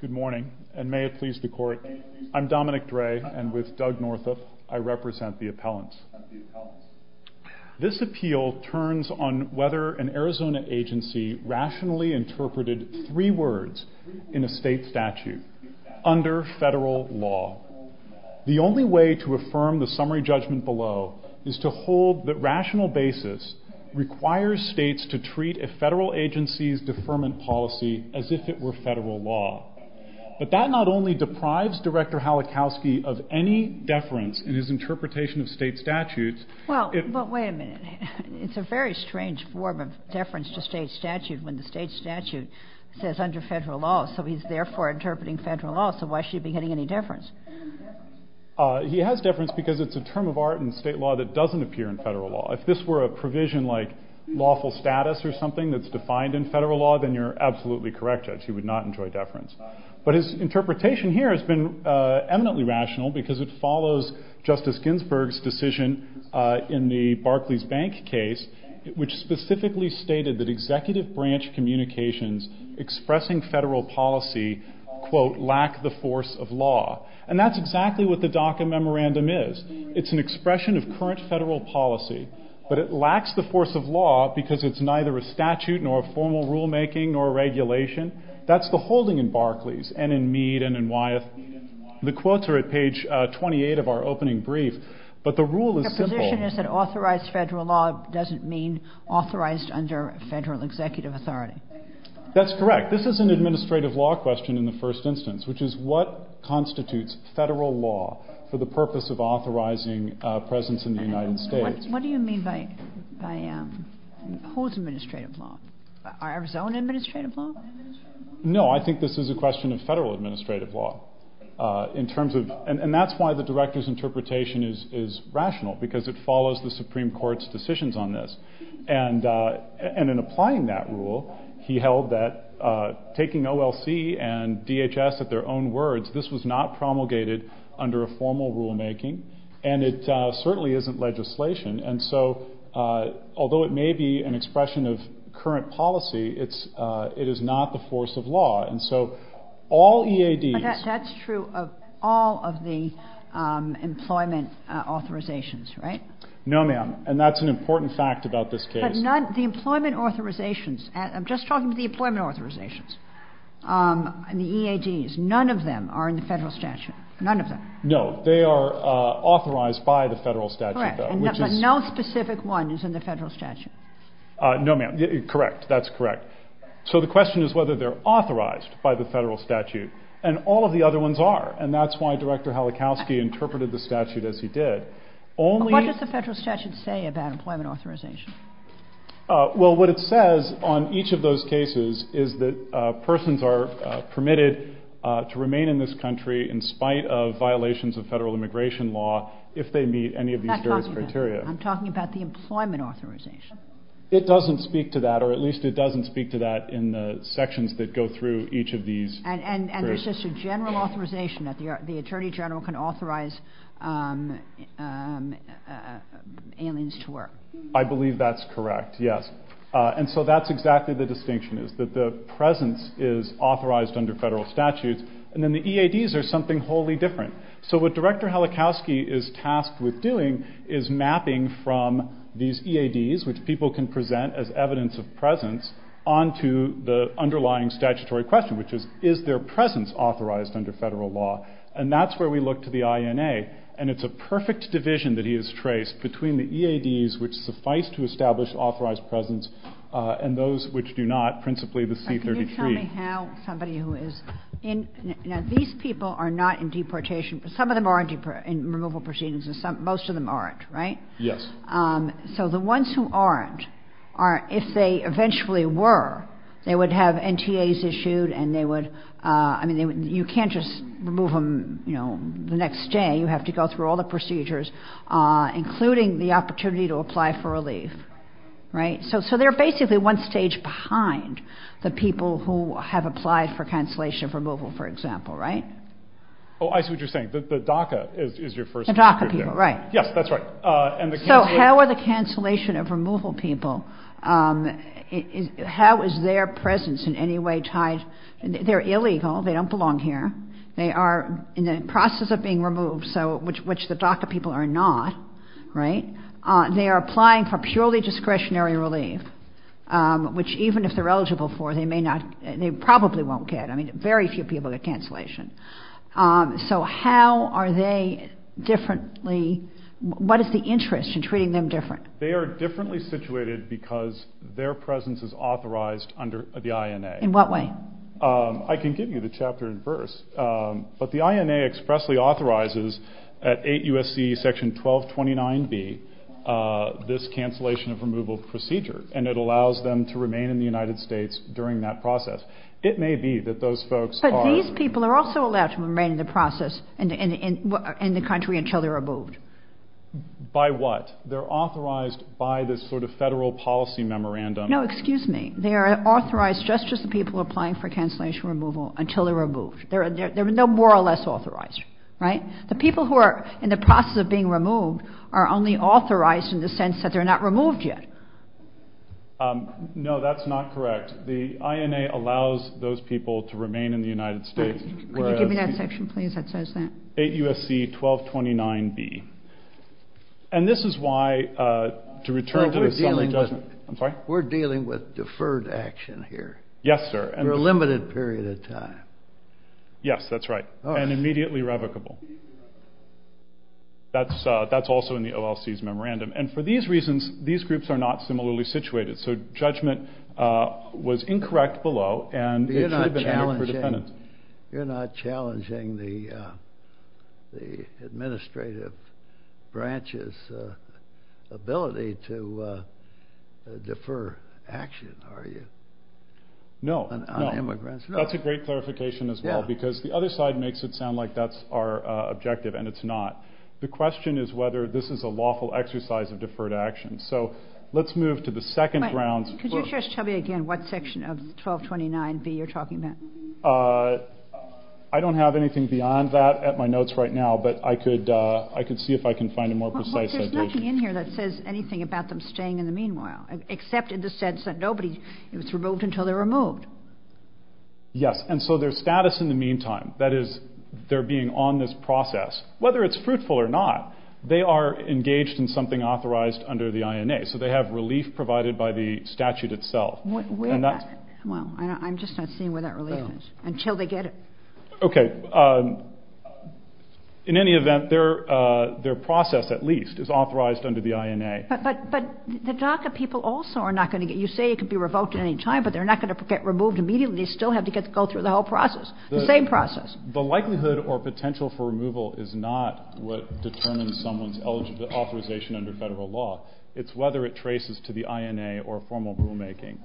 Good morning, and may it please the Court, I'm Dominic Dre and with Doug Northup, I represent the appellants. This appeal turns on whether an Arizona agency rationally interpreted three words in a state statute under federal law. The only way to affirm the summary judgment below is to hold that rational basis requires states to treat a federal agency's deferment policy as if it were federal law, but that not only deprives Director Halachowski of any deference in his interpretation of state statutes. Well, wait a minute. It's a very strange form of deference to state statute when the state statute says under federal law, so he's therefore interpreting federal law, so why should he be getting any deference? He has deference because it's a term of art in state law that doesn't appear in federal law. If this were a provision like lawful status or something that's defined in federal law, then you're absolutely correct that he would not enjoy deference. But his interpretation here has been eminently rational because it follows Justice Ginsburg's decision in the Barclays Bank case, which specifically stated that executive branch communications expressing federal policy, quote, lack the force of law. And that's exactly what the DACA memorandum is. It's an expression of current federal policy, but it lacks the force of law because it's neither a statute nor a formal rulemaking nor a regulation. That's the holding in Barclays and in Mead and in Wyeth. The quotes are at page 28 of our opening brief, but the rule is simple. The position is that authorized federal law doesn't mean authorized under federal executive authority. That's correct. This is an administrative law question in the first instance, which is what constitutes federal law for the purpose of authorizing presence in the United States? What do you mean by whose administrative law? Our own administrative law? No, I think this is a question of federal administrative law in terms of... And that's why the director's interpretation is rational because it follows the Supreme Court's decisions on this. And in applying that rule, he held that taking OLC and DHS at their own words, this was not promulgated under a formal rulemaking, and it certainly isn't legislation. And so, although it may be an expression of current policy, it is not the force of law. And so, all EADs... That's true of all of the employment authorizations, right? No, ma'am. And that's an important fact about this case. But none... The employment authorizations... I'm just talking to the employment authorizations and the EADs. None of them are in the federal statute. None of them. No, they are authorized by the federal statute. Correct. And no specific one is in the federal statute? No, ma'am. Correct. That's correct. So, the question is whether they're authorized by the federal statute. And all of the other ones are. And that's why Director Halachowski interpreted the statute as he did. Only... What does the federal statute say about employment authorization? Well, what it says on each of those cases is that persons are permitted to remain in this country in spite of violations of federal immigration law if they meet any of these various criteria. I'm talking about the employment authorization. It doesn't speak to that, or at least it doesn't speak to that in the sections that go through each of these... And is this a general authorization that the Attorney General can authorize aliens to work? I believe that's correct, yes. And so that's exactly the distinction, is that the presence is authorized under federal statutes. And then the EADs are something wholly different. So what Director Halachowski is tasked with doing is mapping from these EADs, which people can present as evidence of presence, onto the underlying statutory question, which is, is their presence authorized under federal law? And that's where we look to the INA. And it's a perfect division that he has traced between the EADs, which suffice to establish authorized presence, and those which do not, principally the C-33. Can you tell me how somebody who is in... Now, these people are not in deportation, but some of them are in removal proceedings and most of them aren't, right? Yes. So the ones who aren't are, if they eventually were, they would have NTAs issued and they would... I mean, you can't just remove them the next day. You have to go through all the procedures, including the opportunity to apply for a leave. Right? So they're basically one stage behind the people who have applied for cancellation of removal, for example. Right? Oh, I see what you're saying. The DACA is your first... The DACA people. Right. Yes, that's right. And the... So how are the cancellation of removal people, how is their presence in any way tied... They're illegal. They don't belong here. They are in the process of being removed, which the DACA people are not, right? They are applying for purely discretionary relief, which even if they're eligible for, they may not... They probably won't get. I mean, very few people get cancellation. So how are they differently... What is the interest in treating them different? They are differently situated because their presence is authorized under the INA. In what way? I can give you the chapter in verse, but the INA expressly authorizes at 8 U.S.C. Section 1229B, this cancellation of removal procedure, and it allows them to remain in the United States during that process. It may be that those folks are... But these people are also allowed to remain in the process in the country until they're removed. By what? They're authorized by this sort of federal policy memorandum. No, excuse me. They are authorized just as the people applying for cancellation removal until they're removed. They're more or less authorized, right? The people who are in the process of being removed are only authorized in the sense that they're not removed yet. No, that's not correct. The INA allows those people to remain in the United States. Could you give me that section, please, that says that? 8 U.S.C. 1229B. And this is why, to return to the... I'm sorry? We're dealing with deferred action here. Yes, sir. For a limited period of time. Yes, that's right. And immediately revocable. That's also in the OLC's memorandum. And for these reasons, these groups are not similarly situated, so judgment was incorrect below and... You're not challenging... No, no. That's a great clarification as well, because the other slide makes it sound like that's our objective, and it's not. The question is whether this is a lawful exercise of deferred action. So let's move to the second round. Could you just tell me again what section of 1229B you're talking about? I don't have anything beyond that at my notes right now, but I could see if I can find a more precise... There's nothing in here that says anything about them staying in the meanwhile, except in the sense that nobody is removed until they're removed. Yes, and so their status in the meantime, that is, they're being on this process, whether it's fruitful or not, they are engaged in something authorized under the INA. So they have relief provided by the statute itself. Well, I'm just not seeing where that relief is, until they get it. Okay. In any event, their process, at least, is authorized under the INA. But the DACA people also are not going to get... You say it could be revoked at any time, but they're not going to get removed immediately. They still have to go through the whole process, the same process. The likelihood or potential for removal is not what determines someone's authorization under federal law. It's whether it traces to the INA or formal rulemaking.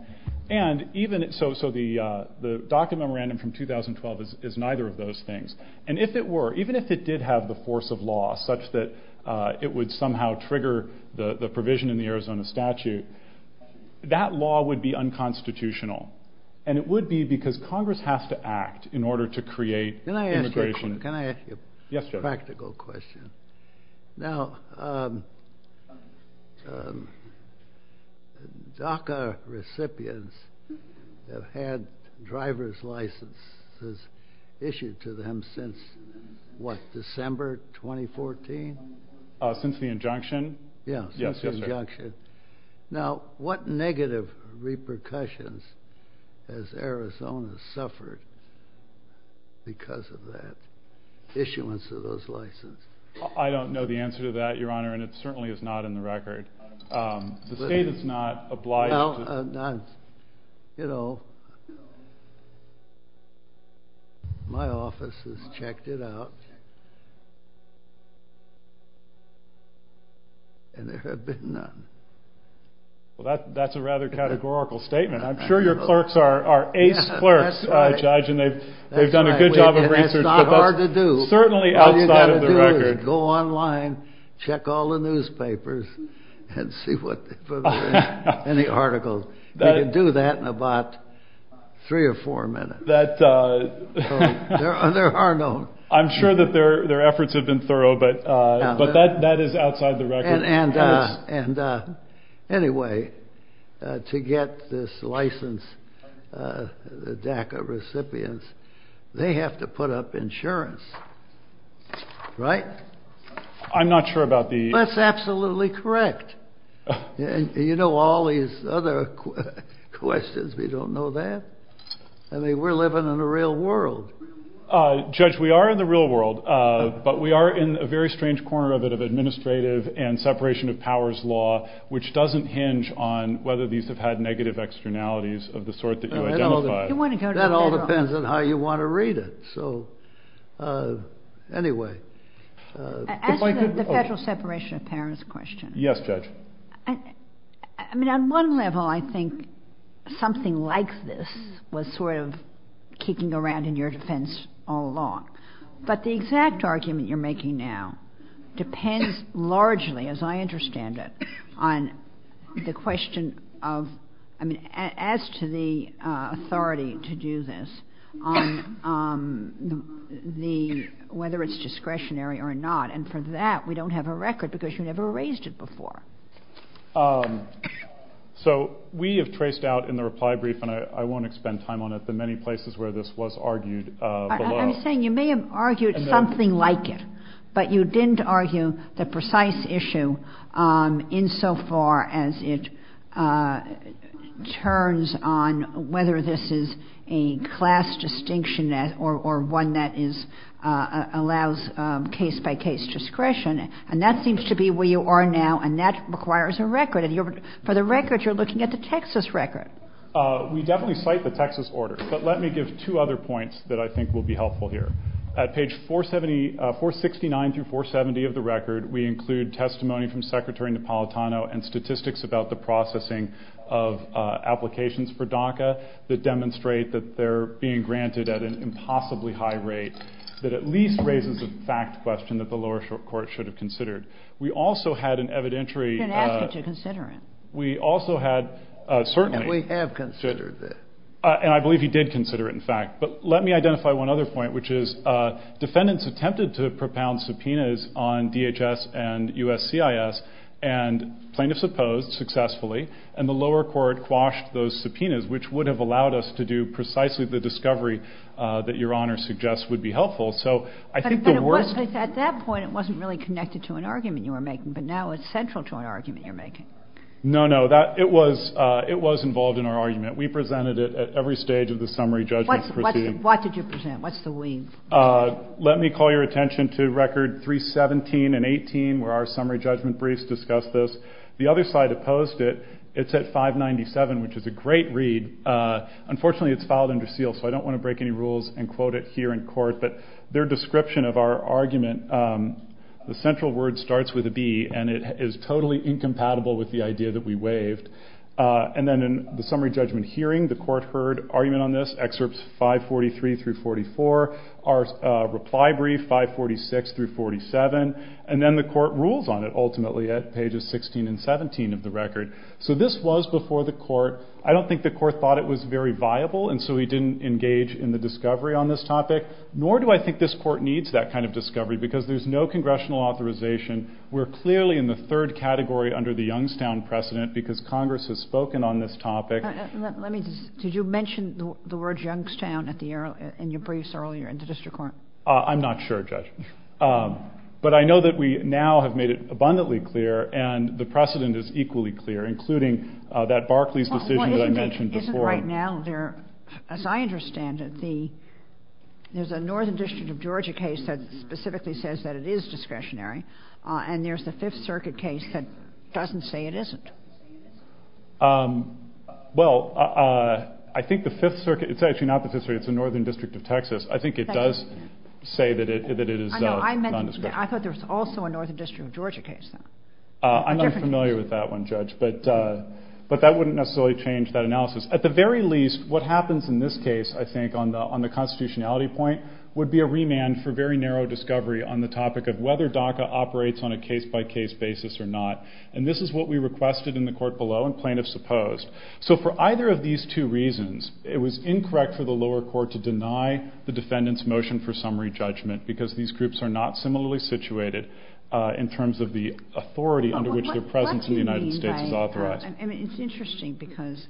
And even... So the DACA memorandum from 2012 is neither of those things. And if it were, even if it did have the force of law, such that it would somehow trigger the provision in the Arizona statute, that law would be unconstitutional. And it would be because Congress has to act in order to create immigration... Yes, Judge. Now, DACA recipients have had driver's licenses issued to them since, what, December 2014? Since the injunction? Yes. Since the injunction. Now, what negative repercussions has Arizona suffered because of that issuance of those licenses? I don't know the answer to that, Your Honor, and it certainly is not in the record. The state is not obliged to... Well, you know, my office has checked it out, and there have been none. Well, that's a rather categorical statement. I'm sure your clerks are ace clerks, Judge, and they've done a good job of researching... And it's not hard to do. It's certainly outside of the record. All you've got to do is go online, check all the newspapers, and see if there are any articles. You can do that in about three or four minutes. There are no... I'm sure that their efforts have been thorough, but that is outside the record. And anyway, to get this license, DACA recipients, they have to put up insurance, right? I'm not sure about the... That's absolutely correct. You know all these other questions, you don't know that? I mean, we're living in the real world. Judge, we are in the real world, but we are in a very strange corner of it of administrative and separation of powers law, which doesn't hinge on whether these have had negative externalities of the sort that you identified. That all depends on how you want to read it. So, anyway... Asking the federal separation of powers question. Yes, Judge. I mean, on one level, I think something like this was sort of kicking around in your defense all along. But the exact argument you're making now depends largely, as I understand it, on the question of... I mean, as to the authority to do this, on the... whether it's discretionary or not. And for that, we don't have a record because you never raised it before. So, we have traced out in the reply brief, and I won't expend time on it, the many places where this was argued below. I'm saying you may have argued something like it, but you didn't argue the precise issue insofar as it turns on whether this is a class distinction or one that allows case-by-case discretion. And that seems to be where you are now, and that requires a record. For the record, you're looking at the Texas record. We definitely cite the Texas order. But let me give two other points that I think will be helpful here. At page 469-470 of the record, we include testimony from Secretary Napolitano and statistics about the processing of applications for DACA that demonstrate that they're being granted at an impossibly high rate that at least raises a fact question that the lower court should have considered. We also had an evidentiary... You can ask it to consider it. We also had... And we have considered it. And I believe he did consider it, in fact. But let me identify one other point, which is defendants attempted to propound subpoenas on DHS and USCIS and plaintiffs opposed successfully, and the lower court quashed those subpoenas, which would have allowed us to do precisely the discovery that Your Honor suggests would be helpful. But at that point, it wasn't really connected to an argument you were making, but now it's central to an argument you're making. No, no. It was involved in our argument. We presented it at every stage of the summary judgment proceeding. What did you present? What's the wings? Let me call your attention to record 317 and 18, where our summary judgment briefs discuss this. The other side opposed it. It's at 597, which is a great read. Unfortunately, it's filed under seal, so I don't want to break any rules and quote it here in court. But their description of our argument, the central word starts with a B, and it is totally incompatible with the idea that we waived. And then in the summary judgment hearing, the court heard argument on this, excerpts 543 through 44, our reply brief 546 through 47, and then the court ruled on it ultimately at pages 16 and 17 of the record. So this was before the court. I don't think the court thought it was very viable, and so we didn't engage in the discovery on this topic, nor do I think this court needs that kind of discovery, because there's no congressional authorization. We're clearly in the third category under the Youngstown precedent, because Congress has spoken on this topic. Did you mention the word Youngstown in your briefs earlier in the district court? I'm not sure, Judge. But I know that we now have made it abundantly clear, and the precedent is equally clear, including that Barclays decision that I mentioned before. Isn't right now there, as I understand it, there's a Northern District of Georgia case that specifically says that it is discretionary, and there's the Fifth Circuit case that doesn't say it isn't. Well, I think the Fifth Circuit, it's actually not the Fifth Circuit, it's the Northern District of Texas. I think it does say that it is non-discretionary. I thought there was also a Northern District of Georgia case. I'm not familiar with that one, Judge, but that wouldn't necessarily change that analysis. At the very least, what happens in this case, I think, on the constitutionality point would be a remand for very narrow discovery on the topic of whether DACA operates on a case-by-case basis or not. And this is what we requested in the court below and plaintiffs opposed. So for either of these two reasons, it was incorrect for the lower court to deny the defendant's motion for summary judgment because these groups are not similarly situated in terms of the authority under which their presence in the United States is authorized. It's interesting because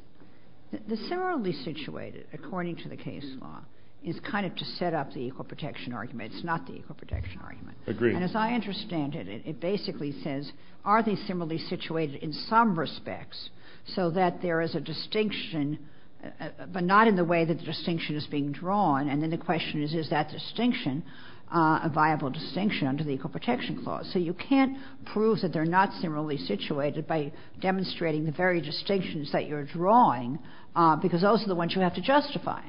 the similarly situated, according to the case law, is kind of to set up the equal protection argument. It's not the equal protection argument. And as I understand it, it basically says, are they similarly situated in some respects so that there is a distinction, but not in the way that the distinction is being drawn? And then the question is, is that distinction a viable distinction under the equal protection clause? So you can't prove that they're not similarly situated by demonstrating the very distinctions that you're drawing because those are the ones you have to justify.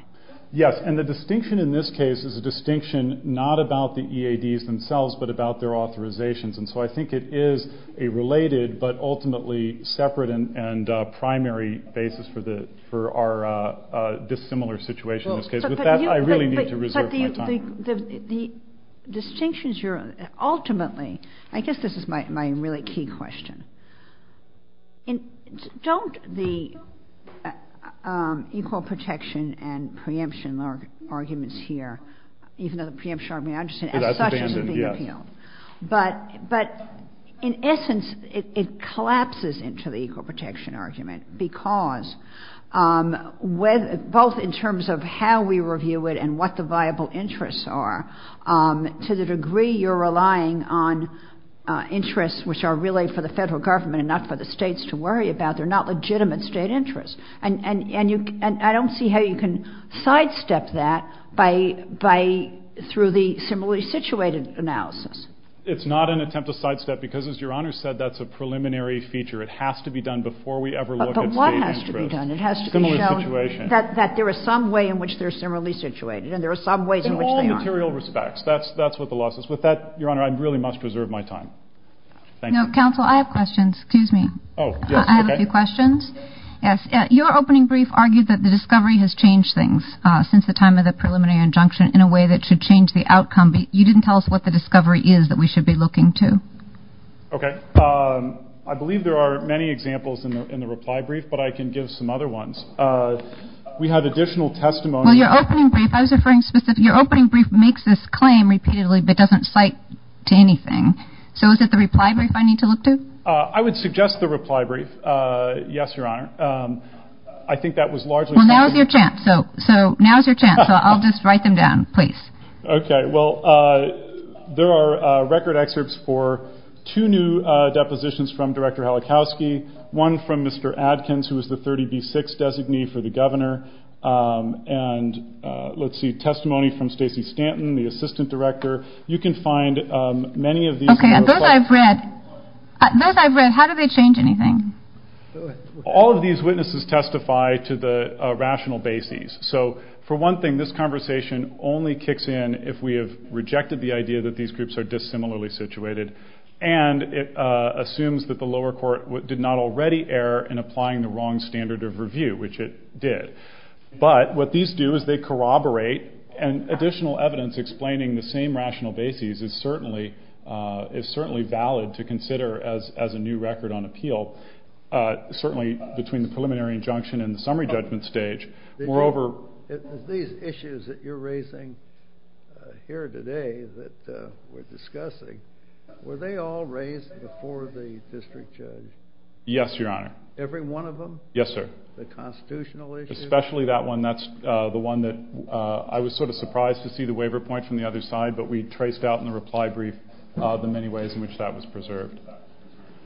Yes, and the distinction in this case is a distinction not about the EADs themselves, but about their authorizations. And so I think it is a related, but ultimately separate and primary basis for our dissimilar situation in this case. With that, I really need to reserve my time. But the distinctions you're, ultimately, I guess this is my really key question. Don't the equal protection and preemption arguments here, even though the preemption argument, I understand, have such a big appeal. But in essence, it collapses into the equal protection argument because both in terms of how we review it and what the viable interests are, to the degree you're relying on interests which are really for the federal government, not for the states to worry about. They're not legitimate state interests. And I don't see how you can sidestep that by, through the similarly situated analysis. It's not an attempt to sidestep because, as Your Honor said, that's a preliminary feature. It has to be done before we ever look at state interest. But what has to be done? It has to be shown that there is some way in which they're similarly situated. And there are some ways in which they aren't. In all material respects. That's what the law says. With that, Your Honor, I really must reserve my time. Thank you. Counsel, I have questions. Excuse me. Oh, yes. Okay. I have a few questions. Your opening brief argued that the discovery has changed things since the time of the preliminary injunction in a way that should change the outcome, but you didn't tell us what the discovery is that we should be looking to. Okay. I believe there are many examples in the reply brief, but I can give some other ones. We have additional testimony. Well, your opening brief, I was referring specifically, your opening brief makes this claim repeatedly but doesn't cite to anything. So is it the reply brief I need to look to? I would suggest the reply brief. Yes, Your Honor. I think that was largely... Well, now's your chance. So now's your chance. So I'll just write them down, please. Okay. Well, there are record excerpts for two new depositions from Director Halachowski, one from Mr. Adkins, who was the 30B6 designee for the governor, and let's see, testimony from Stacey Stanton, the assistant director. You can find many of these... Okay, those I've read. Those I've read. How do they change anything? All of these witnesses testify to the rational basis. So for one thing, this conversation only kicks in if we have rejected the idea that these groups are dissimilarly situated, and it assumes that the lower court did not already err in applying the wrong standard of review, which it did. But what these do is they corroborate an additional evidence explaining the same rational basis is certainly valid to consider as a new record on appeal, certainly between the preliminary injunction and the summary judgment stage. Moreover... These issues that you're raising here today that we're discussing, were they all raised before the district judge? Yes, Your Honor. Every one of them? Yes, sir. The constitutional issues? Especially that one. And that's the one that I was sort of surprised to see the waiver point from the other side, but we traced out in the reply brief the many ways in which that was preserved.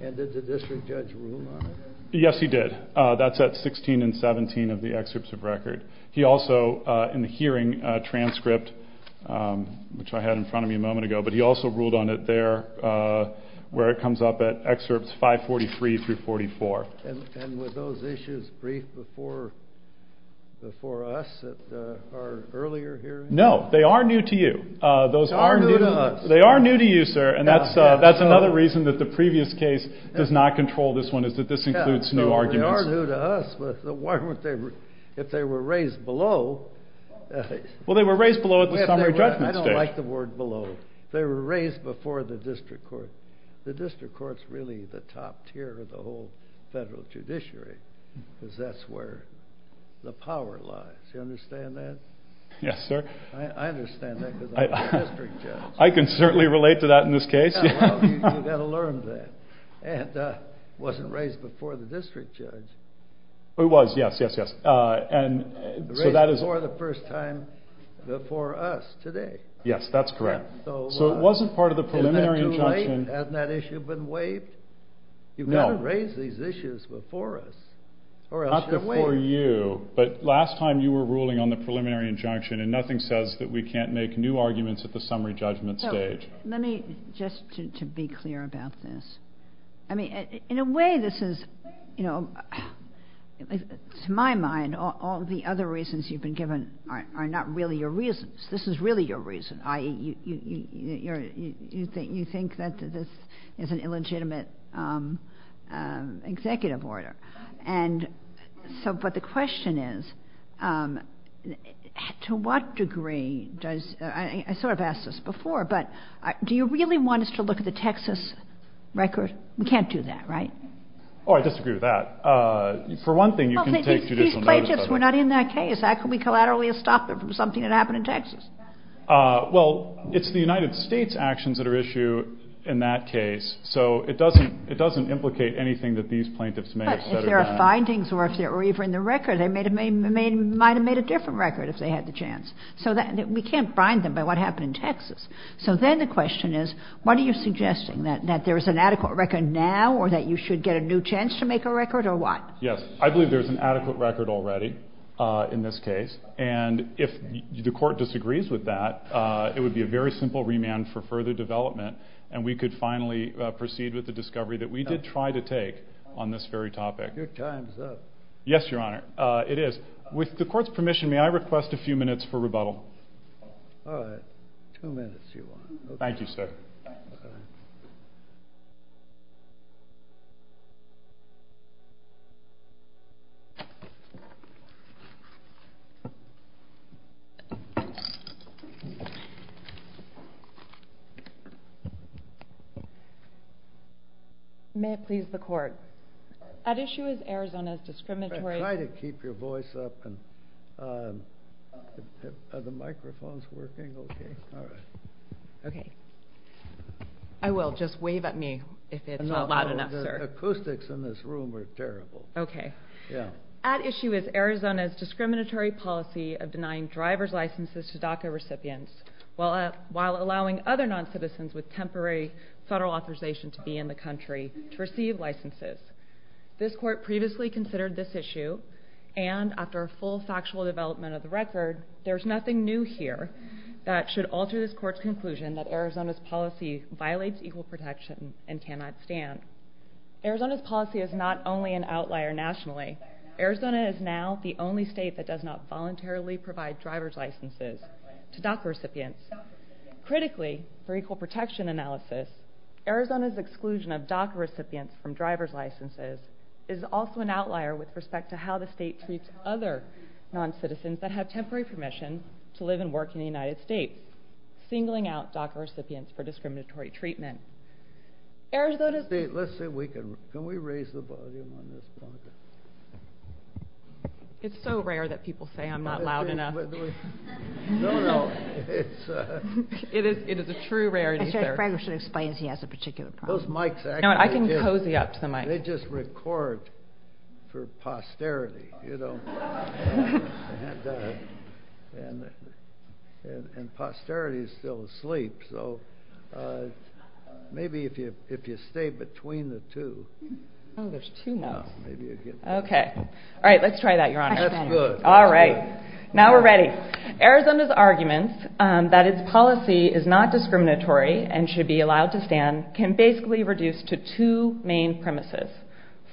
And did the district judge rule on it? Yes, he did. That's at 16 and 17 of the excerpts of record. He also, in the hearing transcript, which I had in front of me a moment ago, but he also ruled on it there, where it comes up at excerpts 543 through 44. And were those issues briefed before us at our earlier hearings? No, they are new to you. They are new to us. They are new to you, sir, and that's another reason that the previous case does not control this one, is that this includes new arguments. They are new to us, but if they were raised below... Well, they were raised below at the summary judgment stage. I don't like the word below. They were raised before the district court. The district court is really the top tier of the whole federal judiciary because that's where the power lies. Do you understand that? Yes, sir. I understand that because I'm a district judge. I can certainly relate to that in this case. You've got to learn that. And it wasn't raised before the district judge. It was, yes, yes, yes. It was raised before the first time before us today. Yes, that's correct. So it wasn't part of the preliminary... Hasn't that issue been weighed? No. You've got to raise these issues before us. Not before you, but last time you were ruling on the preliminary injunction and nothing says that we can't make new arguments at the summary judgment stage. Let me, just to be clear about this. I mean, in a way, this is, you know, to my mind, all the other reasons you've been given are not really your reasons. This is really your reason. You think that this is an illegitimate executive order. And so, but the question is, to what degree does... I sort of asked this before, but do you really want us to look at the Texas record? We can't do that, right? Oh, I disagree with that. For one thing, you can take judicial notice of it. We're not in that case. How can we collaterally stop it from something that happened in Texas? Well, it's the United States actions that are issued in that case. So it doesn't implicate anything that these plaintiffs may have said or done. But if there are findings or if they're even in the record, they might have made a different record if they had the chance. So we can't bind them by what happened in Texas. So then the question is, what are you suggesting? That there's an adequate record now or that you should get a new chance to make a record or what? Yes, I believe there's an adequate record already in this case. And if the court disagrees with that, it would be a very simple remand for further development. And we could finally proceed with the discovery that we did try to take on this very topic. Your time's up. Yes, Your Honor. It is. With the court's permission, may I request a few minutes for rebuttal? Two minutes, if you want. Thank you, sir. Thank you. May it please the court. At issue is Arizona's discriminatory... Try to keep your voice up. Are the microphones working okay? All right. Okay. I will just wave at me if it's loud enough, sir. The acoustics in this room are terrible. Okay. Yeah. At issue is Arizona's discriminatory policy of denying driver's licenses to DACA recipients while allowing other non-citizens with temporary federal authorization to be in the country to receive licenses. This court previously considered this issue, and after a full factual development of the record, there's nothing new here that should alter this court's conclusion that Arizona's policy violates equal protection and cannot stand. Arizona's policy is not only an outlier nationally. Arizona is now the only state that does not voluntarily provide driver's licenses to DACA recipients. Critically, for equal protection analysis, Arizona's exclusion of DACA recipients from driver's licenses is also an outlier with respect to how the state treats other non-citizens that have temporary permission to live and work in the United States, singling out DACA recipients for discriminatory treatment. Arizona... Let's see if we can... Can we raise the volume on this one? It's so rare that people say I'm not loud enough. No, no. It's... It is a true rarity, sir. I think Frank should explain if he has a particular comment. Those mics actually do. I can pose you up to the mic. They just record for posterity, you know. And posterity is still asleep, so... Maybe if you stay between the two. Oh, there's two now. Maybe you could... Okay. All right, let's try that, Your Honor. That's good. All right. Now we're ready. Arizona's argument that its policy is not discriminatory and should be allowed to stand can basically reduce to two main premises.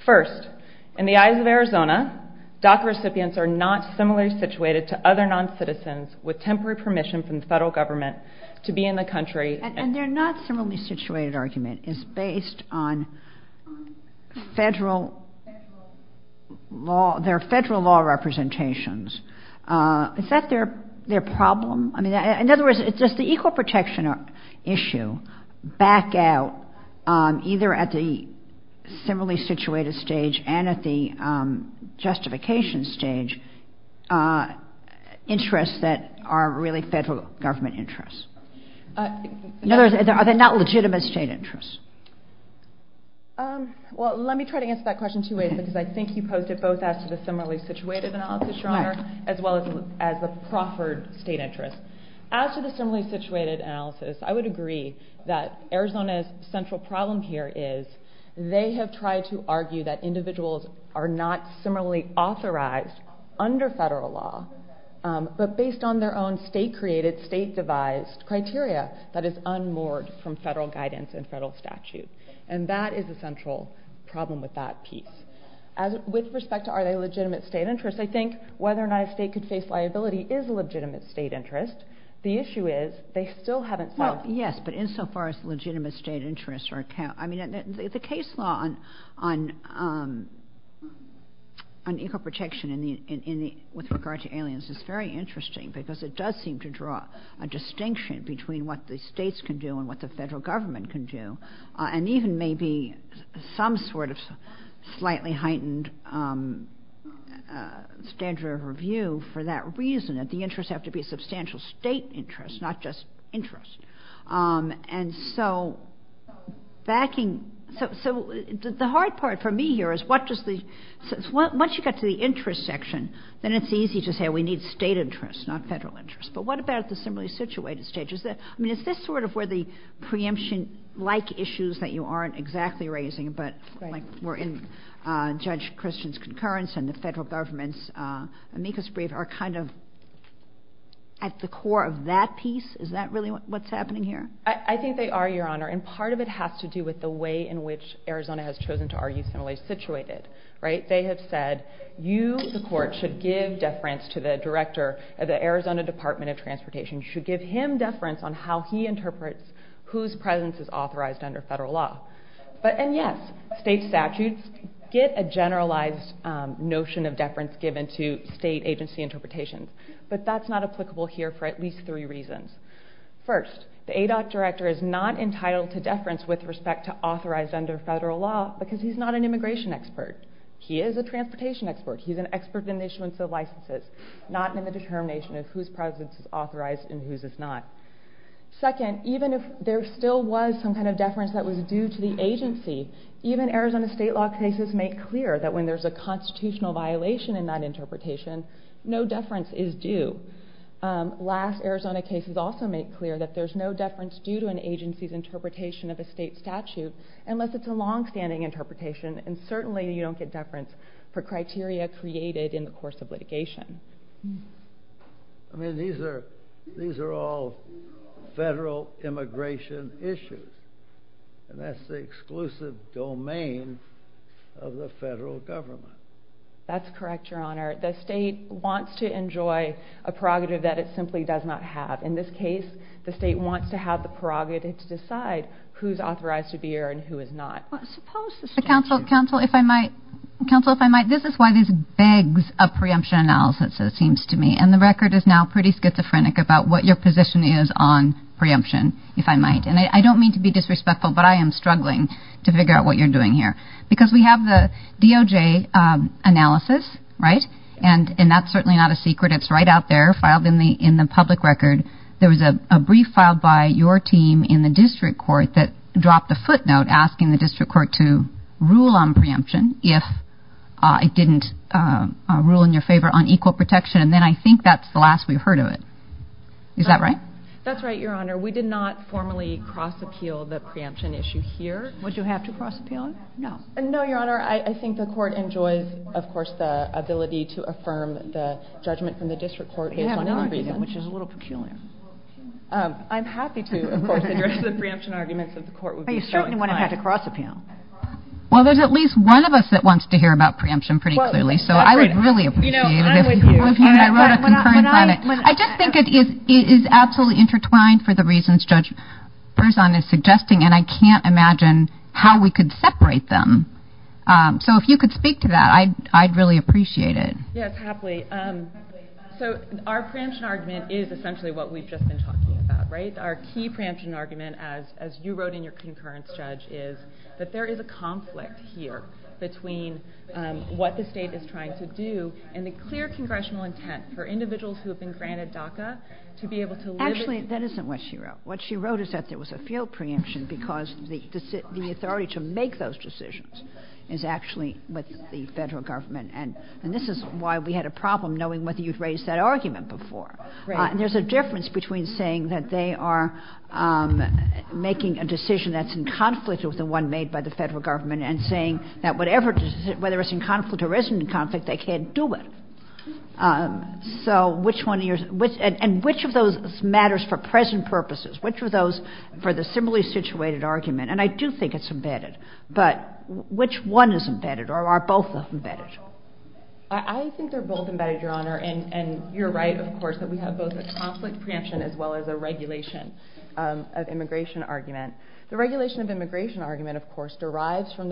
First, in the eyes of Arizona, DACA recipients are not similarly situated to other non-citizens with temporary permission from the federal government to be in the country... And their not similarly situated argument is based on federal law... Their federal law representations. Is that their problem? I mean, in other words, does the equal protection issue back out either at the similarly situated stage and at the justification stage interests that are really federal government interests? Are they not legitimate state interests? Well, let me try to answer that question two ways, because I think you posed it both as a similarly situated analysis, Your Honor, as well as a Crawford state interest. As to the similarly situated analysis, I would agree that Arizona's central problem here is they have tried to argue that individuals are not similarly authorized under federal law, but based on their own state-created, state-devised, criteria that is unmoored from federal guidance and federal statute. And that is a central problem with that, Pete. With respect to are they legitimate state interests, I think whether or not a state can face liability is a legitimate state interest. The issue is they still haven't... Yes, but insofar as legitimate state interests are... I mean, the case law on equal protection with regard to aliens is very interesting, because it does seem to draw a distinction between what the states can do and what the federal government can do, and even maybe some sort of slightly heightened standard of review for that reason, that the interests have to be substantial state interests, not just interests. And so backing... So the hard part for me here is once you get to the interest section, then it's easy to say we need state interests, not federal interests. But what about the similarly situated states? I mean, is this sort of where the preemption-like issues that you aren't exactly raising, but we're in Judge Christian's concurrence and the federal government's amicus brief are kind of at the core of that piece? Is that really what's happening here? I think they are, Your Honor. And part of it has to do with the way in which Arizona has chosen to argue similarly situated. They have said, you, the court, should give deference to the director of the Arizona Department of Transportation. You should give him deference on how he interprets whose presence is authorized under federal law. And yes, state statutes get a generalized notion of deference given to state agency interpretations. But that's not applicable here for at least three reasons. First, the ADOT director is not entitled to deference with respect to authorized under federal law because he's not an immigration expert. He is a transportation expert. He's an expert in the issuance of licenses, not in the determination of whose presence is authorized and whose is not. Second, even if there still was some kind of deference that was due to the agency, even Arizona state law cases make clear that when there's a constitutional violation in that interpretation, no deference is due. Last, Arizona cases also make clear that there's no deference due to an agency's interpretation of a state statute unless it's a long-standing interpretation. And certainly you don't get deference for criteria created in the course of litigation. I mean, these are all federal immigration issues. And that's the exclusive domain of the federal government. That's correct, Your Honor. The state wants to enjoy a prerogative that it simply does not have. In this case, the state wants to have the prerogative to decide who's authorized to be here and who is not. Counsel, if I might... Counsel, if I might, this is why there's begs of preemption analysis, it seems to me. And the record is now pretty schizophrenic about what your position is on preemption, if I might. And I don't mean to be disrespectful, but I am struggling to figure out what you're doing here. Because we have the DOJ analysis, right? And that's certainly not a secret. It's right out there, filed in the public record. There was a brief filed by your team in the district court that dropped the footnote asking the district court to rule on preemption, if it didn't rule in your favor on equal protection. And then I think that's the last we heard of it. Is that right? That's right, Your Honor. We did not formally cross-appeal the preemption issue here. Would you have to cross-appeal it? No. No, Your Honor. I think the court enjoys, of course, the ability to affirm the judgment from the district court. Which is a little peculiar. I'm happy to, of course. The preemption arguments of the court would be so nice. Are you certain one of us has to cross-appeal? Well, there's at least one of us that wants to hear about preemption pretty clearly. So I would really appreciate it. I just think it is absolutely intertwined for the reasons Judge Berzon is suggesting. And I can't imagine how we could separate them. So if you could speak to that, I'd really appreciate it. Yeah, happily. So our preemption argument is essentially what we've just been talking about, right? Our key preemption argument, as you wrote in your concurrence, Judge, is that there is a conflict here between what the state is trying to do and the clear congressional intent for individuals who have been granted DACA to be able to live in... Actually, that isn't what she wrote. What she wrote is that there was a field preemption because the authority to make those decisions is actually with the federal government. And this is why we had a problem knowing whether you'd raised that argument before. And there's a difference between saying that they are making a decision that's in conflict with the one made by the federal government and saying that whatever... Whether it's in conflict or isn't in conflict, they can't do it. So which one... And which of those matters for present purposes? Which of those for the similarly situated argument? And I do think it's embedded. But which one is embedded? Or are both of them embedded? I think they're both embedded, Your Honor. And you're right, of course, that we have both a conflict preemption as well as a regulation of immigration argument. The regulation of immigration argument, of course, derives from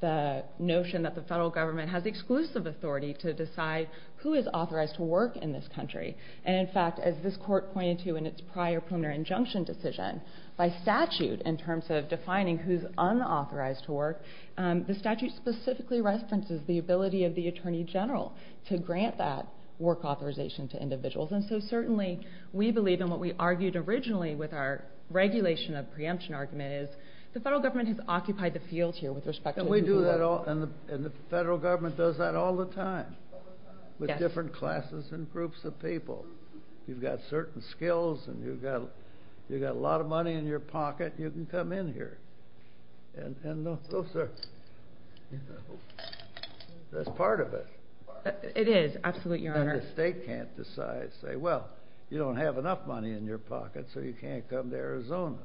the notion that the federal government has exclusive authority to decide who is authorized to work in this country. And in fact, as this court pointed to in its prior preliminary injunction decision, by statute, in terms of defining who's unauthorized to work, the statute specifically restricts the ability of the attorney general to grant that work authorization to individuals. And so certainly we believe in what we argued originally with our regulation of preemption argument is the federal government has occupied the field here with respect to... We do that all... And the federal government does that all the time with different classes and groups of people. You've got certain skills and you've got a lot of money in your pocket, you can come in here. And those are... That's part of it. It is, absolutely, Your Honor. And the state can't decide, say, well, you don't have enough money in your pocket so you can't come to Arizona.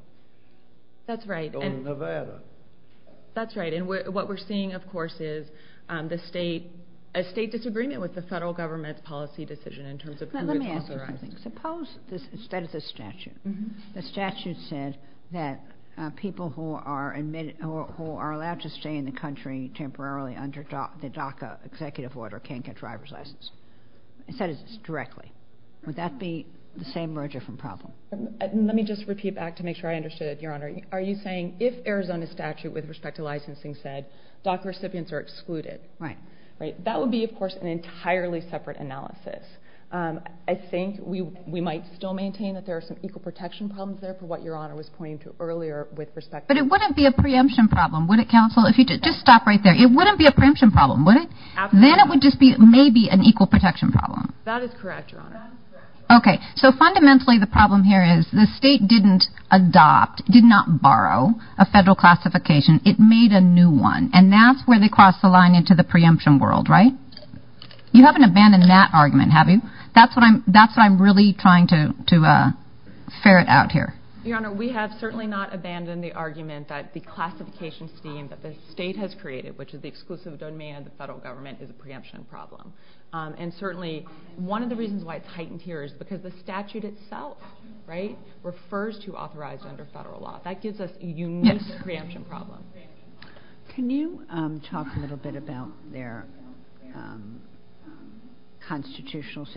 That's right. Or Nevada. That's right. And what we're seeing, of course, is a state disagreement with the federal government's policy decision in terms of who is authorized. Let me answer, I think. Suppose, instead of the statute, the statute says that people who are admitted... who are allowed to stay in the country temporarily under the DACA executive order can't get a driver's license. Instead, it's directly. Would that be the same or a different problem? Let me just repeat back to make sure I understood it, Your Honor. Are you saying if Arizona's statute with respect to licensing said DACA recipients are excluded? Right. That would be, of course, an entirely separate analysis. I think we might still maintain that there are some equal protection problems there from what Your Honor was pointing to earlier with respect to... But it wouldn't be a preemption problem, would it, Counsel? Just stop right there. It wouldn't be a preemption problem, would it? Then it would just be maybe an equal protection problem. That is correct, Your Honor. Okay, so fundamentally the problem here is the state didn't adopt, did not borrow a federal classification. It made a new one. And that's where they crossed the line into the preemption world, right? You haven't abandoned that argument, have you? That's what I'm really trying to ferret out here. Your Honor, we have certainly not abandoned the argument that the classification scheme that the state has created, which is the exclusive domain of the federal government, is a preemption problem. And certainly one of the reasons why it's heightened here is because the statute itself refers to authorized under federal law. That gives us a unique preemption problem. Can you talk a little bit about their constitutional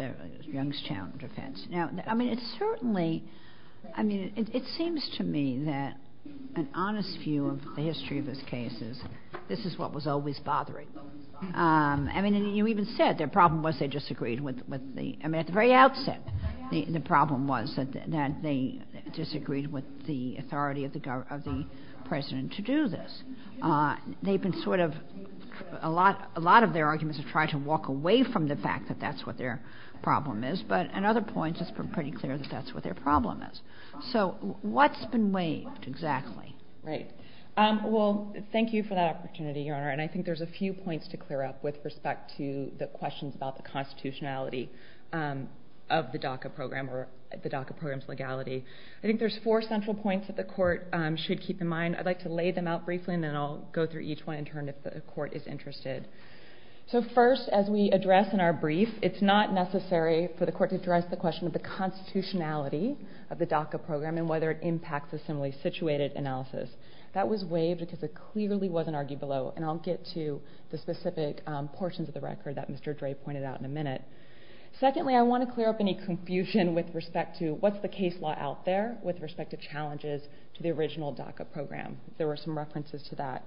Youngstown defense? It certainly, it seems to me that an honest view of the history of those cases, this is what was always bothering them. You even said their problem was they disagreed with the, at the very outset, the problem was that they disagreed with the authority of the president to do this. They've been sort of, a lot of their arguments have tried to walk away from the fact that that's what their problem is, but in other points it's been pretty clear that that's what their problem is. So what's been waived exactly? Well, thank you for that opportunity, Your Honor. And I think there's a few points to clear up with respect to the questions about the constitutionality of the DACA program or the DACA program's legality. I think there's four central points that the court should keep in mind. I'd like to lay them out briefly and then I'll go through each one in turn if the court is interested. So first, as we address in our brief, it's not necessary for the court to address the question of the constitutionality of the DACA program and whether it impacts the similarly situated analysis. That was waived because it clearly wasn't argued below. And I'll get to the specific portions of the record that Mr. Dre pointed out in a minute. Secondly, I want to clear up any confusion with respect to what's the case law out there with respect to the DACA program. There were some references to that.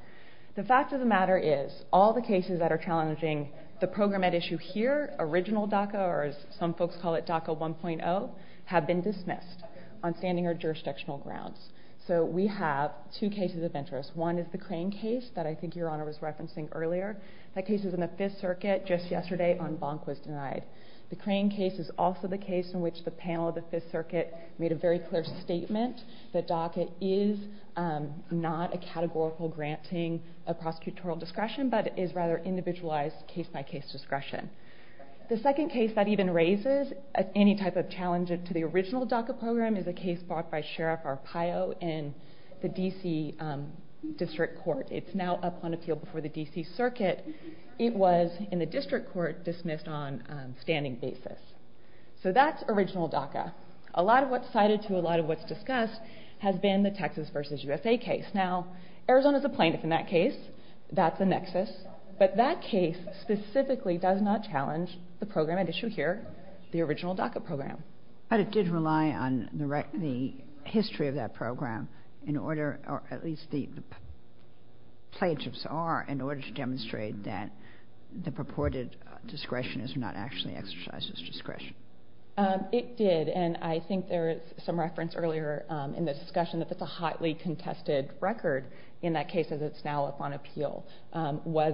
The fact of the matter is, all the cases that are challenging the program at issue here, original DACA, or as some folks call it, DACA 1.0, have been dismissed on standing or jurisdictional grounds. So we have two cases of interest. One is the Crane case that I think Your Honor was referencing earlier. That case was in the Fifth Circuit just yesterday on Blomquist and Ives. The Crane case is also the case in which the panel of the Fifth Circuit made a very clear statement that DACA is not a categorical granting of prosecutorial discretion, but is rather individualized case-by-case discretion. The second case that even raises any type of challenges to the original DACA program is a case brought by Sheriff Arpaio in the D.C. District Court. It's now up on appeal before the D.C. Circuit. It was, in the District Court, dismissed on standing basis. So that's original DACA. A lot of what's cited to a lot of what's discussed has been the Texas v. USA case. Now, Arizona's a plaintiff in that case. That's a nexus. But that case specifically does not challenge the program at issue here, the original DACA program. But it did rely on the history of that program in order, or at least the in order to demonstrate that the purported discretion is not actually exercised as discretion. It did, and I think there's some reference earlier in the discussion that this is a hotly contested record in that case, as it's now up on appeal. One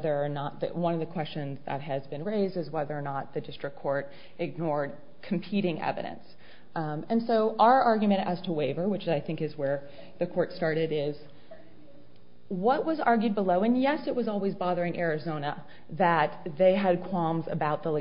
of the questions that has been raised is whether or not the District Court ignored competing evidence. And so our argument as to waiver, which I think is where the court started, is what was argued below, and yes, it was always bothering Arizona, that they had qualms about the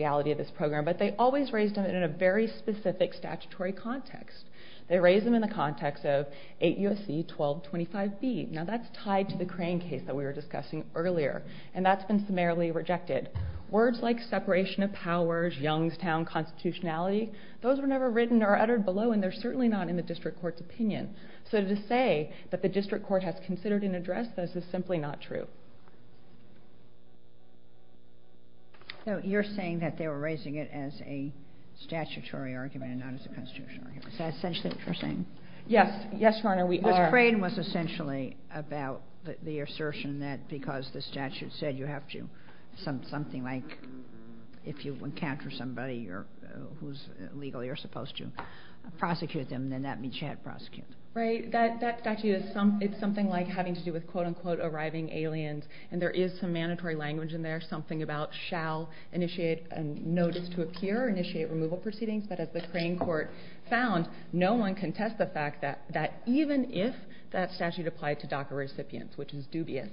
in a very specific statutory context. They raised them in the context of 8 U.S.C. 1225b. Now, that's tied to the Crane case that we were discussing earlier, and that's been summarily rejected. Words like separation of powers, Youngstown constitutionality, those were never written or uttered below, and they're certainly not in the District Court's opinion. So to say that the District Court has considered and addressed this is simply not true. So you're saying that they were raising it as a statutory argument, not as a constitutional argument. Is that essentially what you're saying? Yes, Your Honor, we are. The Crane was essentially about the assertion that because the statute said you have to, something like if you encounter somebody who's legally you're supposed to prosecute them, then that means you have to prosecute them. Right. It's something like having to do with quote-unquote arriving aliens, and there is some mandatory language in there, something about shall initiate a notice to appear or initiate removal proceedings, but as the Crane Court found, no one can test the fact that even if that statute applied to DACA recipients, which is dubious,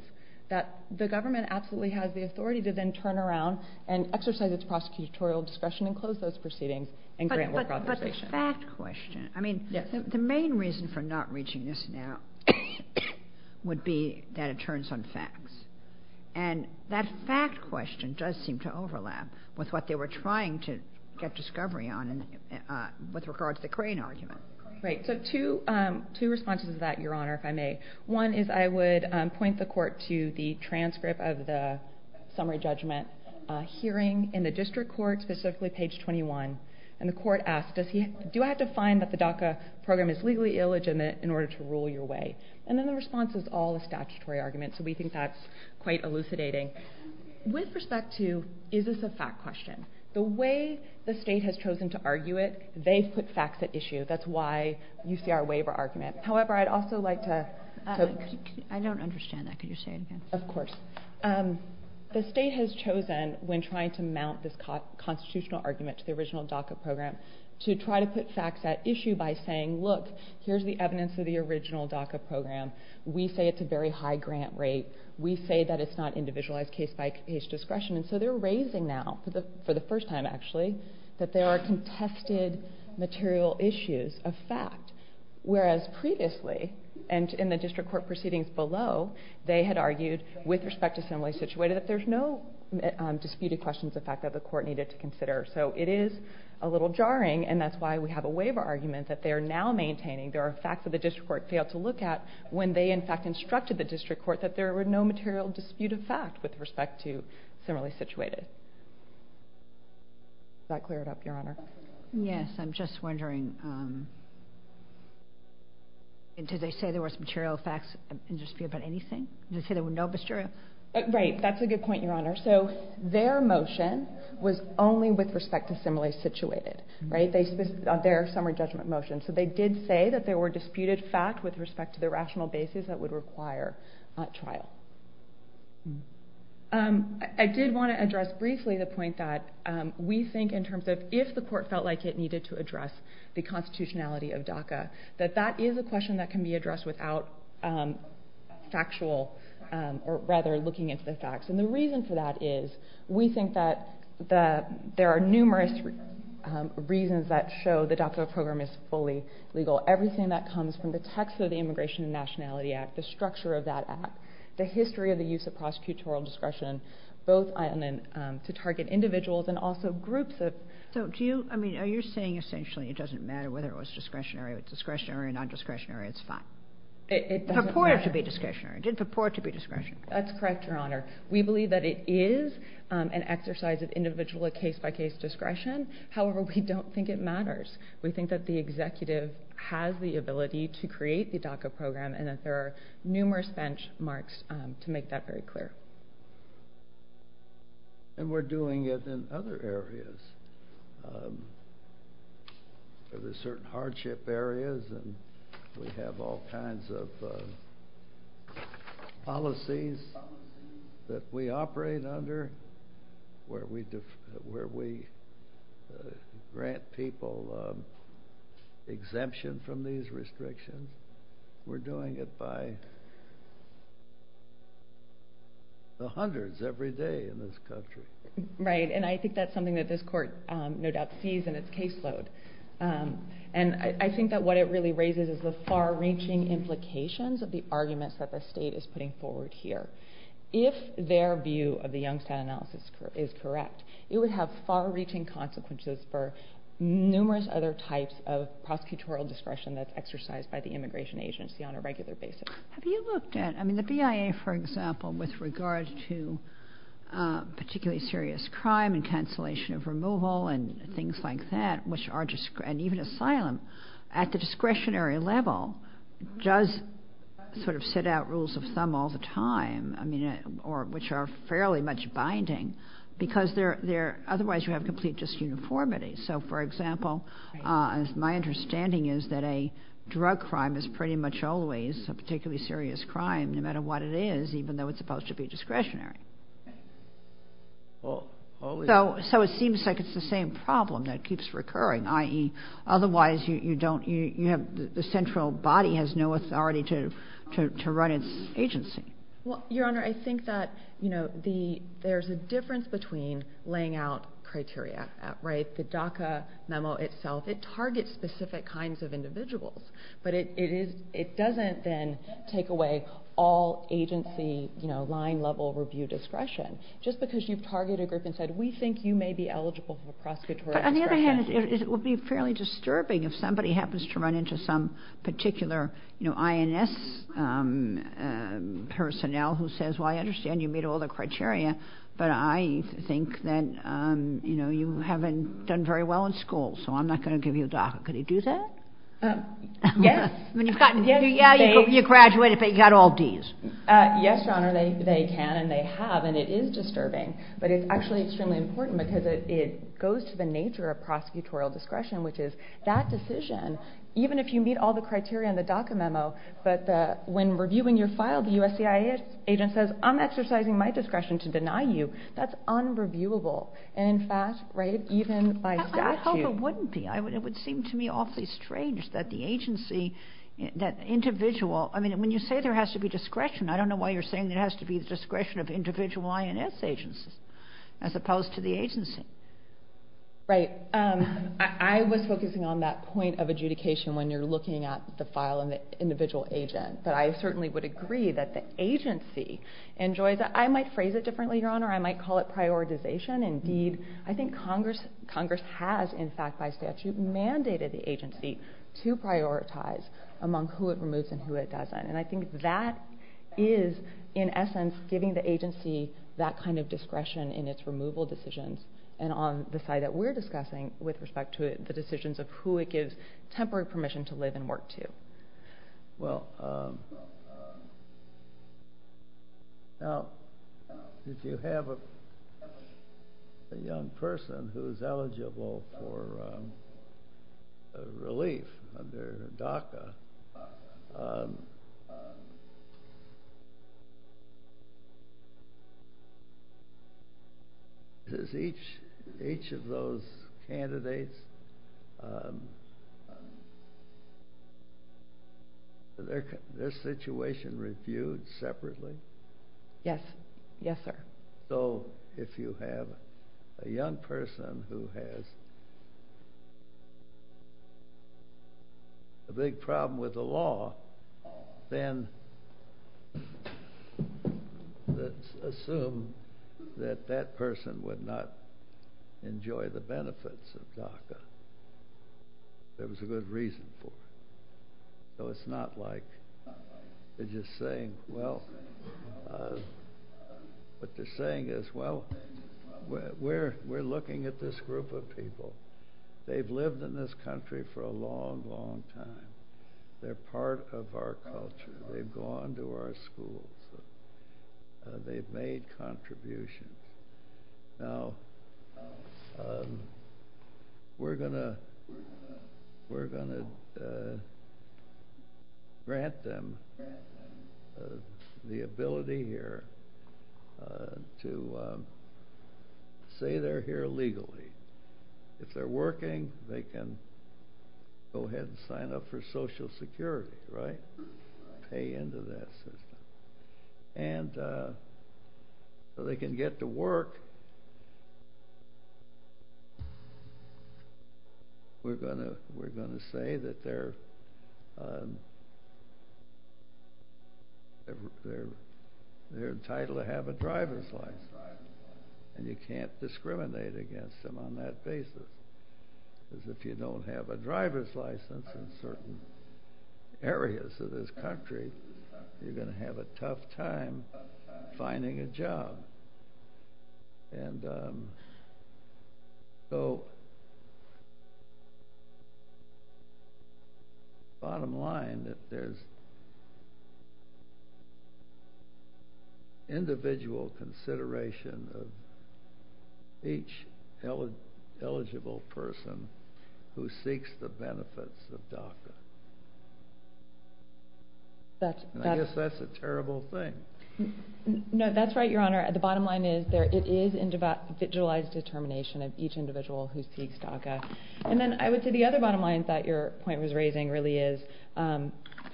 that the government absolutely has the authority to then turn around and exercise its prosecutorial discretion and close those proceedings and grant more prosecution. But the fact question, I mean, the main reason for not reaching this now would be that it turns on fact. And that fact question does seem to overlap with what they were trying to get discovery on with regard to the Crane argument. Great. So two responses to that, Your Honor, if I may. One is I would point the court to the transcript of the summary judgment hearing in the district court, specifically page 21, and the court asked, do I have to find that the DACA program is legally illegitimate in order to rule your way? And then the response is all a statutory argument, so we think that's quite elucidating. With respect to, is this a fact question? The way the state has chosen to argue it, they've put facts at issue. That's why you see our waiver argument. However, I'd also like to I don't understand that. Can you say it again? Of course. The state has chosen when trying to mount this constitutional argument to the original DACA program to try to put facts at issue by saying, look, here's the evidence of the case. We say it's a very high grant rate. We say that it's not individualized case by case discretion, and so they're raising now, for the first time, actually, that there are contested material issues of facts, whereas previously in the district court proceedings below, they had argued with respect to some ways situated that there's no disputed questions of the fact that the court needed to consider. So it is a little jarring, and that's why we have a waiver argument that they're now maintaining there are facts that the district court failed to look at when they in fact instructed the district court that there were no material disputed facts with respect to similarly situated. Does that clear it up, Your Honor? Yes. I'm just wondering did they say there was material facts in dispute about anything? Did they say there were no material Right. That's a good point, Your Honor. So their motion was only with respect to similarly situated. Right? Their summary judgment of motion. So they did say that there were disputed facts with respect to the rational basis that would require trial. I did want to address briefly the point that we think in terms of if the court felt like it needed to address the constitutionality of DACA, that that is a question that can be addressed without factual, or rather looking into the facts. And the reason for that is we think that there are numerous reasons that show the DACA program is fully legal. Everything that comes from the text of the Immigration and Nationality Act, the structure of that act, the history of the use of prosecutorial discretion, both to target individuals and also groups of... So do you, I mean you're saying essentially it doesn't matter whether it was discretionary or discretionary or non-discretionary. It's fine. It purported to be discretionary. It did purport to be discretionary. That's correct, Your Honor. We believe that it is an exercise of individual case-by-case discretion. However, we don't think it matters. We think that the executive has the ability to create the DACA program and that there are numerous benchmarks to make that very clear. And we're doing it in other areas. There are certain hardship areas and we have all kinds of policies that we operate under where we grant people exemption from these restrictions. We're doing it by the hundreds every day in this country. Right, and I think that's something that this court no doubt sees in its caseload. And I think that what it really raises is the far-reaching implications of the argument that the state is putting forward here. If their view of the Youngstown analysis is correct, it would have far-reaching consequences for numerous other types of prosecutorial discretion that's exercised by the immigration agency on a regular basis. Have you looked at, I mean, the BIA, for example, with regards to particularly serious crime and cancellation of removal and things like that, and even asylum, at the discretionary level does sort of lay out rules of thumb all the time, which are fairly much binding, because otherwise you have complete disuniformity. So, for example, my understanding is that a drug crime is pretty much always a particularly serious crime, no matter what it is, even though it's supposed to be discretionary. So it seems like it's the same problem that keeps recurring, i.e., otherwise the central body has no authority to run its agency. Your Honor, I think that there's a difference between laying out criteria. The DACA memo itself, it targets specific kinds of individuals, but it doesn't then take away all agency line-level review discretion. Just because you've targeted this and said, we think you may be eligible for prosecutorial discretion. It would be fairly disturbing if somebody happens to run into some particular INS personnel who says, well, I understand you meet all the criteria, but I think that you haven't done very well in school, so I'm not going to give you a DACA. Could you do that? Yes. You graduated, but you got all Ds. Yes, Your Honor, they can, and they have, and it is disturbing. But it's actually extremely important, because it goes to the nature of prosecutorial discretion, which is that decision, even if you meet all the criteria in the DACA memo, but when reviewing your file, the USCIS agent says, I'm exercising my discretion to deny you. That's unreviewable. And in fact, even by statute... I hope it wouldn't be. It would seem to me awfully strange that the agency, that individual, I mean, when you say there has to be discretion, I don't know why you're saying there has to be discretion of individual INS agencies, as opposed to the agency. Right. I was focusing on that point of adjudication when you're looking at the file and the individual agent, but I certainly would agree that the agency enjoys... I might phrase it differently, Your Honor, I might call it prioritization. Indeed, I think Congress has, in fact, by statute mandated the agency to prioritize among who it removes and who it doesn't, and I think that is, in essence, giving the agency that kind of discretion in its removal decisions and on the side that we're discussing with respect to the decisions of who it gives temporary permission to live and work to. Well, now, if you have a young person who's eligible for relief, a doctor, is each of those candidates their situation reviewed separately? Yes. Yes, sir. So, if you have a young person who has a big problem with the law, then let's assume that that person would not enjoy the benefits of doctors. There was a good reason for it. So it's not like they're just saying, well, what they're saying is, well, we're looking at this group of people. They've lived in this country for a long, long time. They're part of our culture. They've gone to our schools. They've made contributions. Now, we're going to we're going to grant them the ability here to say they're here legally. If they're working, they can go ahead and sign up for Social Security, right? Pay into that. And so they can get to work, we're going to say that they're entitled to have a driver's license. And you can't discriminate against them on that basis. Because if you don't have a driver's license in certain areas of this country, you're going to have a tough time finding a job. And so bottom line is there's individual consideration of each eligible person who seeks the benefits of DACA. I guess that's a terrible thing. No, that's right, Your Honor. The bottom line is there is individualized determination of each individual who seeks DACA. And then I would say the other bottom line that your point was raising really is, and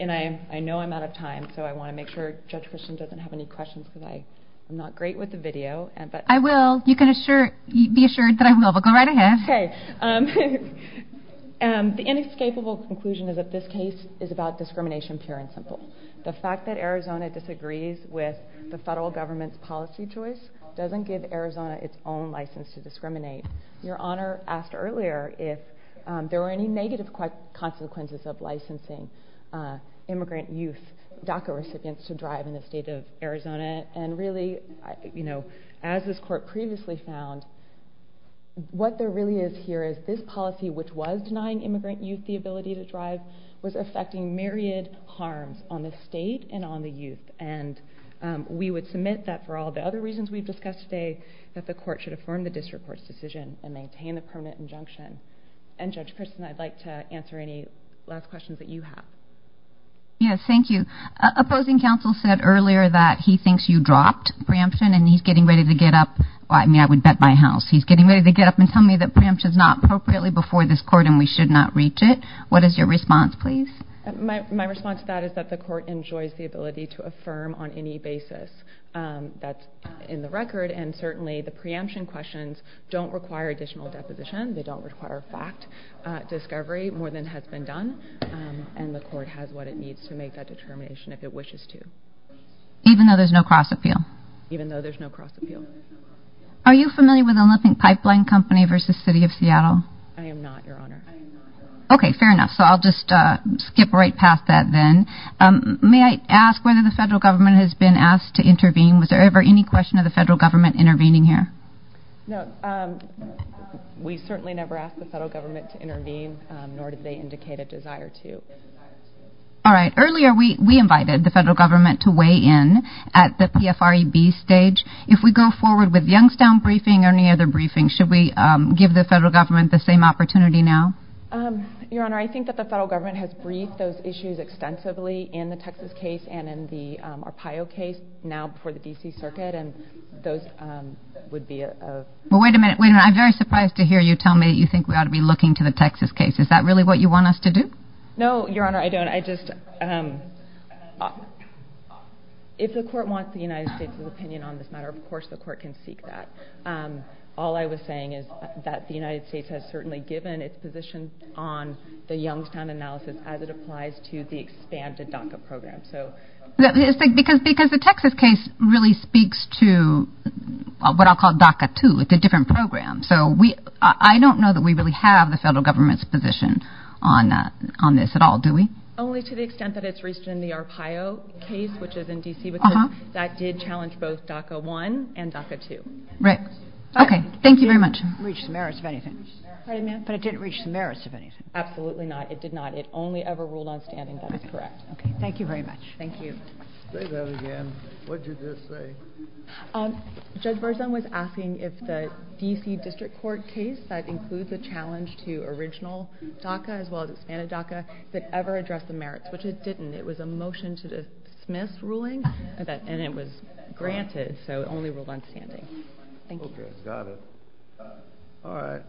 I know I'm out of time, so I want to make sure Judge Christian doesn't have any questions today. I'm not great with the video. I will. You can be assured that I will, but go right ahead. The inescapable conclusion of this case is about discrimination, fair and simple. The fact that Arizona disagrees with the federal government's policy choice doesn't give Arizona its own license to discriminate. Your Honor asked earlier if there were any negative consequences of licensing immigrant youth DACA to drive in the state of Arizona. There is no negative The fact that Arizona disagrees with the federal government and really, you know, as this Court previously found, what there really is here is this policy, which was denying immigrant youth the ability to drive, was affecting myriad harm on the state and on the youth. We would submit that for all the other reasons we've discussed today that the Court should affirm the District Court's decision and maintain a permanent injunction. And Judge Christian, I'd like to answer any last questions that you have. Yes, thank you. Opposing counsel said earlier that he thinks you dropped Bramson, and he's getting ready to get up. I mean, I would bet my house he's getting ready to get up and tell me that Bramson's not appropriately before this Court and we should not reach it. What is your response, please? My response to that is that the Court enjoys the ability to affirm on any basis that's in the record, and certainly the preemption questions don't require additional deposition. They don't require fact discovery more than has been done, and the Court has what it needs to make that determination if it wishes to. Even though there's no cross-appeal? Even though there's no cross-appeal. Are you familiar with Unlooping Pipeline Company versus City of Seattle? I am not, Your Honor. Okay, fair enough. So I'll just skip right past that then. May I ask whether the federal government has been asked to intervene? Was there ever any question of the federal government intervening here? No. We certainly never asked the federal government to intervene, nor did they indicate a desire to. All right. Earlier we invited the federal government to weigh in at the PFREB stage. If we go forward with Youngstown briefing or any other briefing, should we give the federal government the same opportunity now? Your Honor, I think that the federal government has briefed those issues extensively in the Texas case and in the Arpaio case, now before the D.C. Circuit, and those would be a... Wait a minute. I'm very surprised to hear you tell me you think we ought to be looking to the Texas case. Is that really what you want us to do? No, Your Honor, I don't. I just... If the Court wants the United States' opinion on this matter, of course the Court can speak to that. All I was saying is that the United States has certainly given its position on the expanded DACA program, so... Because the Texas case really speaks to what I'll call DACA 2. It's a different program, so I don't know that we really have the federal government's position on this at all, do we? Only to the extent that it's reached in the Arpaio case, which is in D.C. That did challenge both DACA 1 and DACA 2. Right. Okay. Thank you very much. It didn't reach the merits of anything. Absolutely not. It did not. The rule on standing is correct. Okay. Thank you very much. Thank you. Say that again. What did you just say? Judge Berzon was asking if the D.C. District Court case that includes the challenge to original DACA as well as expanded DACA did ever address the merits, which it didn't. It was a motion to dismiss ruling, and it was granted, so it only ruled on standing. Thank you. Got it. All right.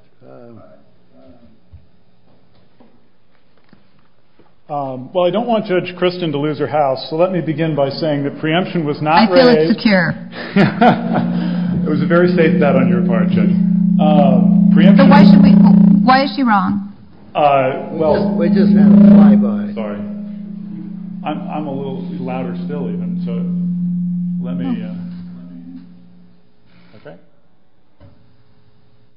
Well, I don't want to urge Kristen to lose her house, so let me begin by saying the preemption was not raised... I feel it's secure. It was a very safe bet on your part, Jim. Why is she wrong? Well... Sorry. I'm a little louder still even, so let me in. Okay.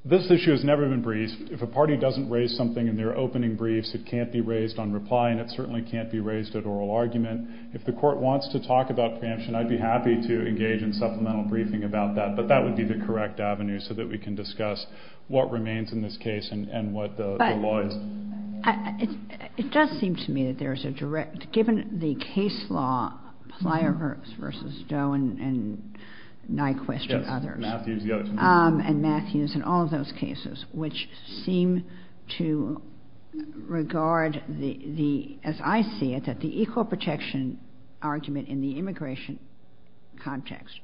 This issue has never been briefed. If a party doesn't raise something in their opening briefs, it can't be raised on reply, and it certainly can't be raised at oral argument. If the Court wants to talk about preemption, I'd be happy to engage in supplemental briefing about that, but that would be the correct avenue so that we can discuss what remains in this case and what the law is. It does seem to me that there's a direct... Given the case law, Plyharris v. Doe and Nyquist and others, and Matthews and all of those cases, which seem to regard the... As I see it, that the equal protection argument in the immigration context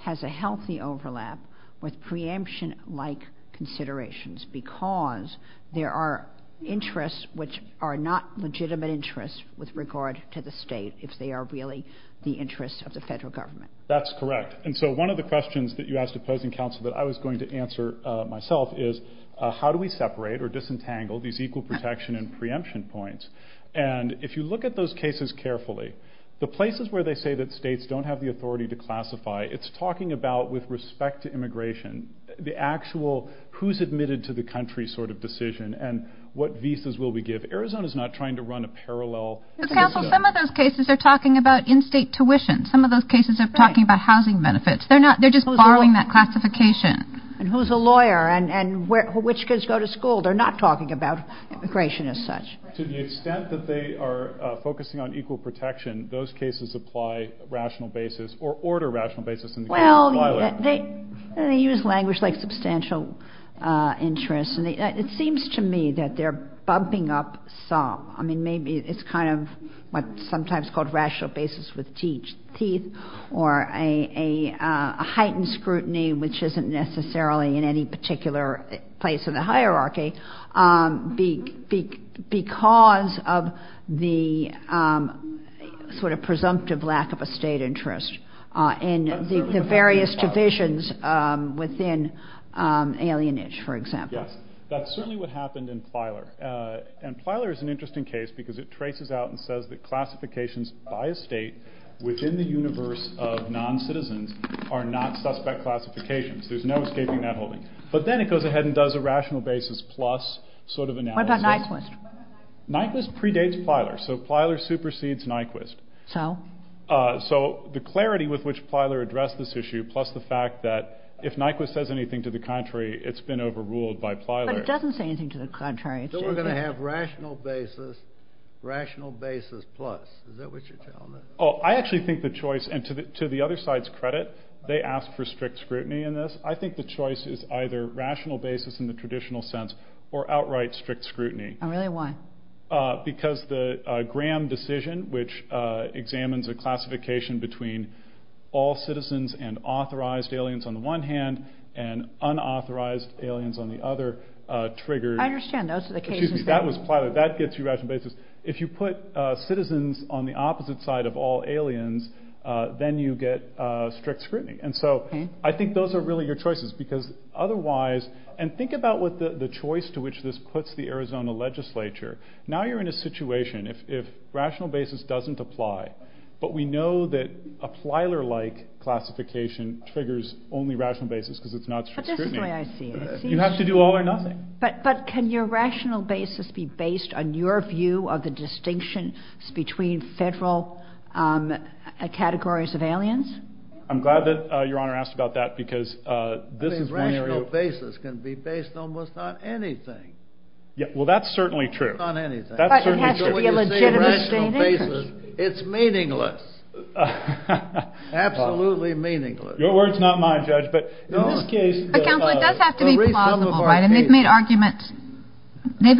has a healthy overlap with preemption-like considerations because there are interests which are not legitimate interests with regard to the state if they are really the interests of the federal government. That's correct. And so one of the questions that you asked opposing counsel that I was going to answer myself is, how do we separate or disentangle these equal protection and preemption points? If you look at those cases carefully, the places where they say that states don't have the authority to classify, it's talking about, with respect to immigration, the actual who's admitted to the country sort of decision and what visas will we give. Arizona's not trying to run a parallel... Counsel, some of those cases are talking about in-state tuition. Some of those cases are talking about housing benefits. They're just borrowing that from a lawyer and which kids go to school. They're not talking about immigration as such. To the extent that they are focusing on equal protection, those cases apply rational basis or order rational basis... Well, they use language like substantial interest and it seems to me that they're bumping up some. I mean, maybe it's kind of what's sometimes called rational basis with teeth or a heightened scrutiny which isn't necessarily in any particular place in the hierarchy because of the sort of presumptive lack of a state interest in the various divisions within alienage, for example. That's certainly what happened in Filer. And Filer is an interesting case because it traces out and says that classifications by a state within the universe of non-citizens are not suspect classifications. There's no escaping that holding. But then it goes ahead and does a rational basis plus sort of analysis. What about Nyquist? Nyquist predates Filer. So Filer supersedes Nyquist. So? So the clarity with which Filer addressed this issue plus the fact that if Nyquist says anything to the contrary, it's been overruled by Filer. But it doesn't say anything to the contrary. So we're going to have rational basis, rational basis plus. Is that what you're telling me? Oh, I actually think the other side's credit. They ask for strict scrutiny in this. I think the choice is either rational basis in the traditional sense or outright strict scrutiny. And really why? Because the Graham decision, which examines the classification between all citizens and authorized aliens on the one hand and unauthorized aliens on the other triggers. I understand. Those are the cases. That was Filer. That gets you rational basis. If you put citizens on the opposite side of all citizens, you get strict scrutiny. And so I think those are really your choices because otherwise, and think about what the choice to which this puts the Arizona legislature. Now you're in a situation if rational basis doesn't apply, but we know that a Filer-like classification triggers only rational basis because it's not strict scrutiny. You have to do all or nothing. But can your rational basis be based on your view of the distinction between federal categories of aliens? I'm glad that Your Honor asked about that because this is... Rational basis can be based almost on anything. Well, that's certainly true. But it has to be a legitimate statement. It's meaningless. Absolutely meaningless. Your word's not mine, Judge, but in this case... They've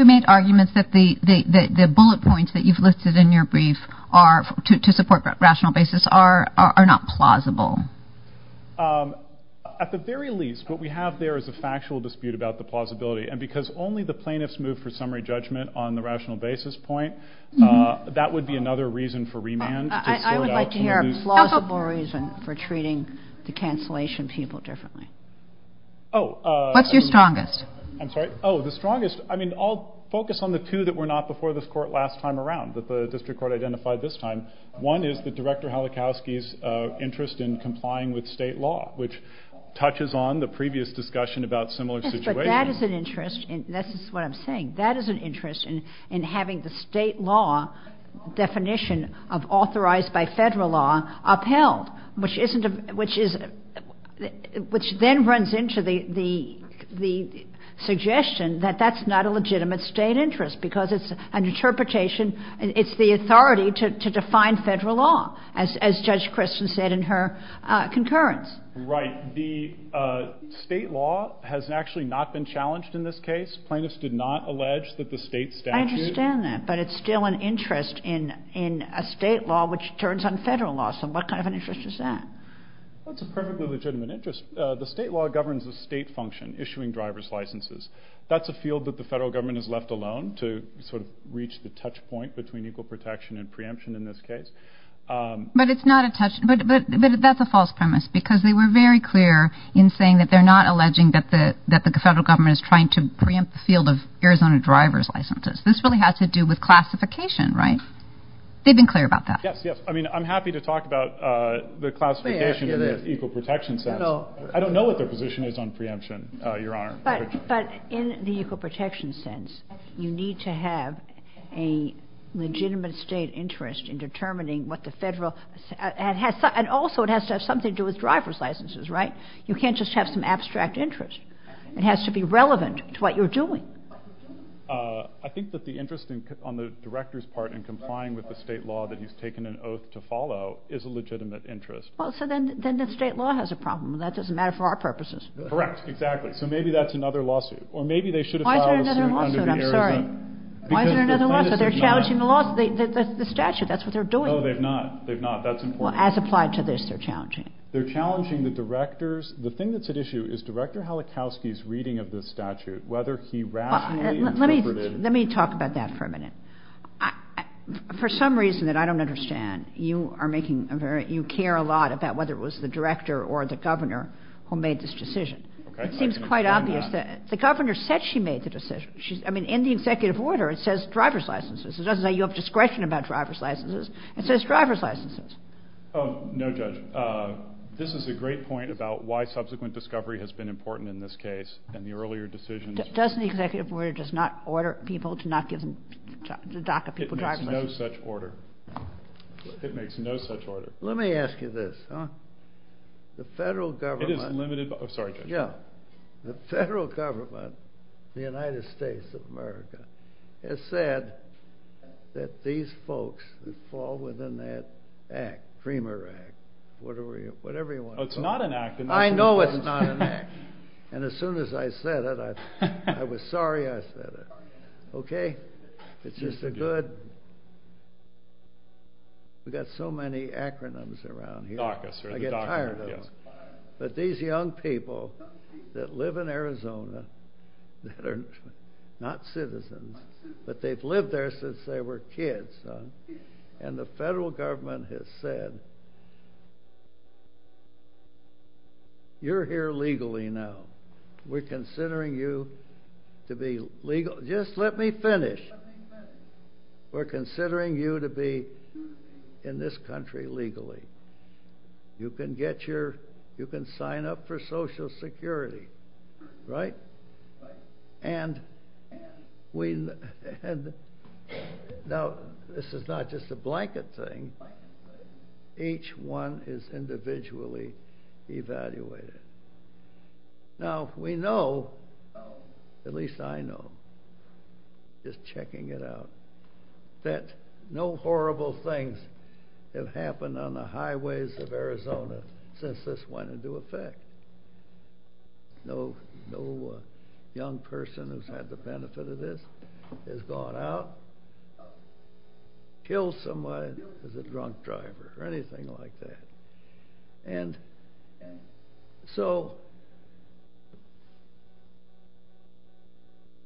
made arguments that the bullet points that you've listed in your rational basis are not plausible. At the very least, what we have there is a factual dispute about the plausibility and because only the plaintiffs move for summary judgment on the rational basis point, that would be another reason for remand. I would like to hear a plausible reason for treating the cancellation people differently. What's your strongest? I'm sorry? Oh, the strongest... I mean, I'll focus on the two that were not before this court last time around that the director Halachowski's interest in complying with state law, which touches on the previous discussion about similar situations. But that is an interest and this is what I'm saying. That is an interest in having the state law definition of authorized by federal law upheld, which isn't a... which then runs into the suggestion that that's not a legitimate state interest because it's an interpretation and it's the authority to define federal law, as Judge Christian said in her concurrence. Right. The state law has actually not been challenged in this case. Plaintiffs did not allege that the state statute... I understand that, but it's still an interest in a state law which turns on federal law. So what kind of an interest is that? That's a perfectly legitimate interest. The state law governs the state function, issuing driver's licenses. That's a field that the federal government has left alone to sort of reach the touch point between equal protection and preemption in this case. But it's not a touch... but that's a false premise because they were very clear in saying that they're not alleging that the federal government is trying to preempt the field of Arizona driver's licenses. This really has to do with classification, right? They've been clear about that. Yes, yes. I mean, I'm happy to talk about the classification of the equal protection sense. I don't know what the position is on preemption, Your Honor. But in the equal protection sense, you need to have a legitimate state interest in determining what the federal... and also it has to have something to do with driver's licenses, right? You can't just have some abstract interest. It has to be relevant to what you're doing. I think that the interest on the Director's part in complying with the state law that he's taken an oath to follow is a legitimate interest. Well, so then the state law has a problem. That doesn't matter for our purposes. Correct. Exactly. So maybe that's another lawsuit. Why is there another lawsuit? I'm sorry. Why is there another lawsuit? They're challenging the statute. That's what they're doing. No, they're not. They're not. That's important. Well, as applied to this, they're challenging it. They're challenging the Director's... The thing that's at issue is Director Halachowski's reading of the statute, whether he rationally interpreted... Let me talk about that for a minute. For some reason that I don't understand, you care a lot about whether it was the Director or the Governor who made this decision. It seems quite obvious that... The Governor said she made the decision. In the executive order, it says driver's licenses. It doesn't say you have discretion about driver's licenses. It says driver's licenses. Oh, no, Judge. This is a great point about why subsequent discovery has been important in this case and the earlier decisions... Doesn't the executive order just not order people to not give them... It makes no such order. It makes no such order. Let me ask you this. The federal government... It is limited... I'm sorry, Judge. The federal government in the United States of America has said that these folks fall within that act, whatever you want to call it. It's not an act. I know it's not an act. And as soon as I said it, I was sorry I said it. Okay? It's just a good... We've got so many acronyms around here. I get tired of them. But these young people that live in Arizona that are not citizens, but they've lived there since they were kids, and the federal government has said, you're here legally now. We're considering you to be legal... Just let me finish. We're considering you to be in this country legally. You can get your... You can sign up for Social Security. Right? And we... Now, this is not just a blanket thing. Each one is individually evaluated. Now, we know, at least I know, just checking it out, that no horrible things have happened on the highways of Arizona since this went into effect. No young person has had the benefit of this, has gone out, killed somebody as a drunk driver, or anything like that. And so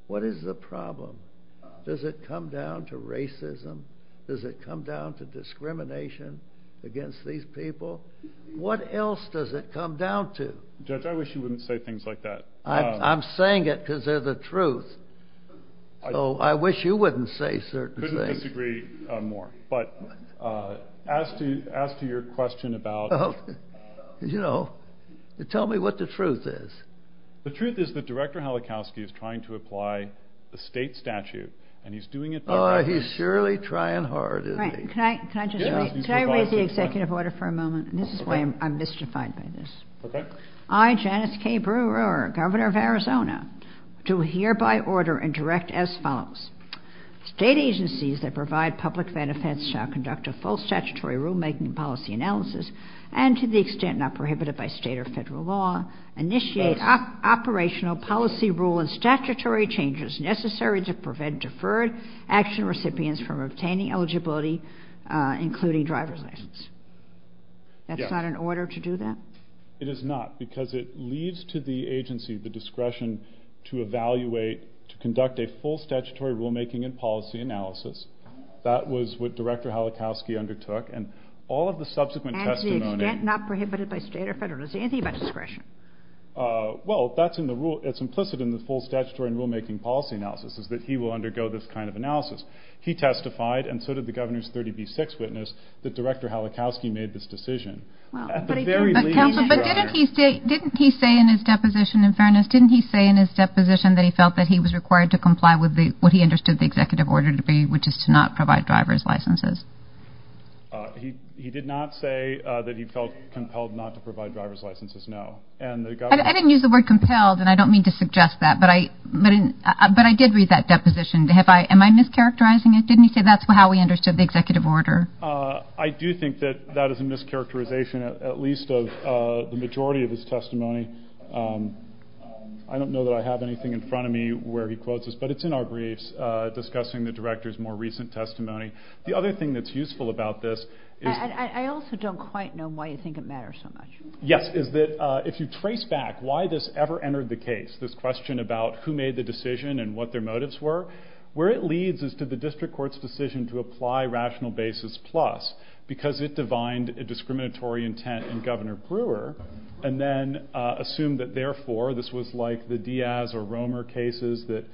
what is the truth? Does it come down to racism? Does it come down to discrimination against these people? What else does it come down to? Judge, I wish you wouldn't say things like that. I'm saying it because they're the truth. So I wish you wouldn't say certain things. Couldn't disagree more, but as to your question about... You know, tell me what the truth is. The truth is that Director Halachowski is trying to apply the state statute, and he's doing it... Oh, he's surely trying hard, isn't he? Can I raise the executive order for a moment? This is why I'm mystified by this. I, Janice K. Brewer, Governor of Arizona, do hereby order and direct as follows. State agencies that provide public benefits shall conduct a full statutory rulemaking policy analysis and, to the extent not prohibited by state or federal law, initiate operational policy rule and statutory changes necessary to prevent deferred action recipients from obtaining eligibility, including driver's license. That's not an order to do that? It is not, because it leads to the agency the discretion to evaluate, to conduct a full statutory rulemaking and policy analysis. That was what Director Halachowski undertook, and all of the subsequent testimony... Anything about discretion? Well, that's implicit in the full statutory rulemaking policy analysis, that he will undergo this kind of analysis. He testified, and so did the Governor's 30B6 witness, that Director Halachowski made this decision. But didn't he say in his deposition, in fairness, didn't he say in his deposition that he felt that he was required to comply with what he understood the executive order to be, which is to not provide driver's licenses? He did not say that he felt compelled not to provide driver's licenses, no. I didn't use the word compelled, and I don't mean to suggest that, but I did read that deposition. Am I mischaracterizing it? Didn't he say that's how he understood the executive order? I do think that that is a mischaracterization, at least of the majority of his testimony. I don't know that I have anything in front of me where he quotes this, but it's in our briefs discussing the Director's more recent testimony. The other thing that's useful about this is... I also don't quite know why you think it matters so much. Yes, is that if you trace back why this ever entered the case, this question about who made the decision and what their motives were, where it leads is to the district court's decision to apply rational basis plus, because it divined a discriminatory intent in Governor Brewer, and then assumed that therefore this was like the Diaz or Romer cases that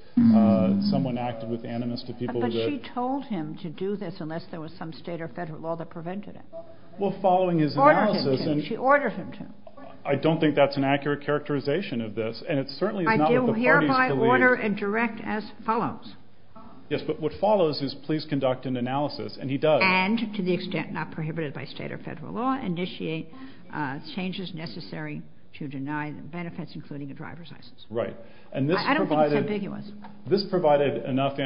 someone acted with animus to people... But she told him to do this unless there was some state or federal law that prevented it. Well, following his analysis... She ordered him to. I don't think that's an accurate characterization of this, and it certainly is not... I do hereby order and direct as follows. Yes, but what follows is please conduct an analysis, and he does. And, to the extent not prohibited by state or federal law, initiate changes necessary to deny the benefits, including the driver's license. Right. And this provided... I don't think it's ambiguous. This provided enough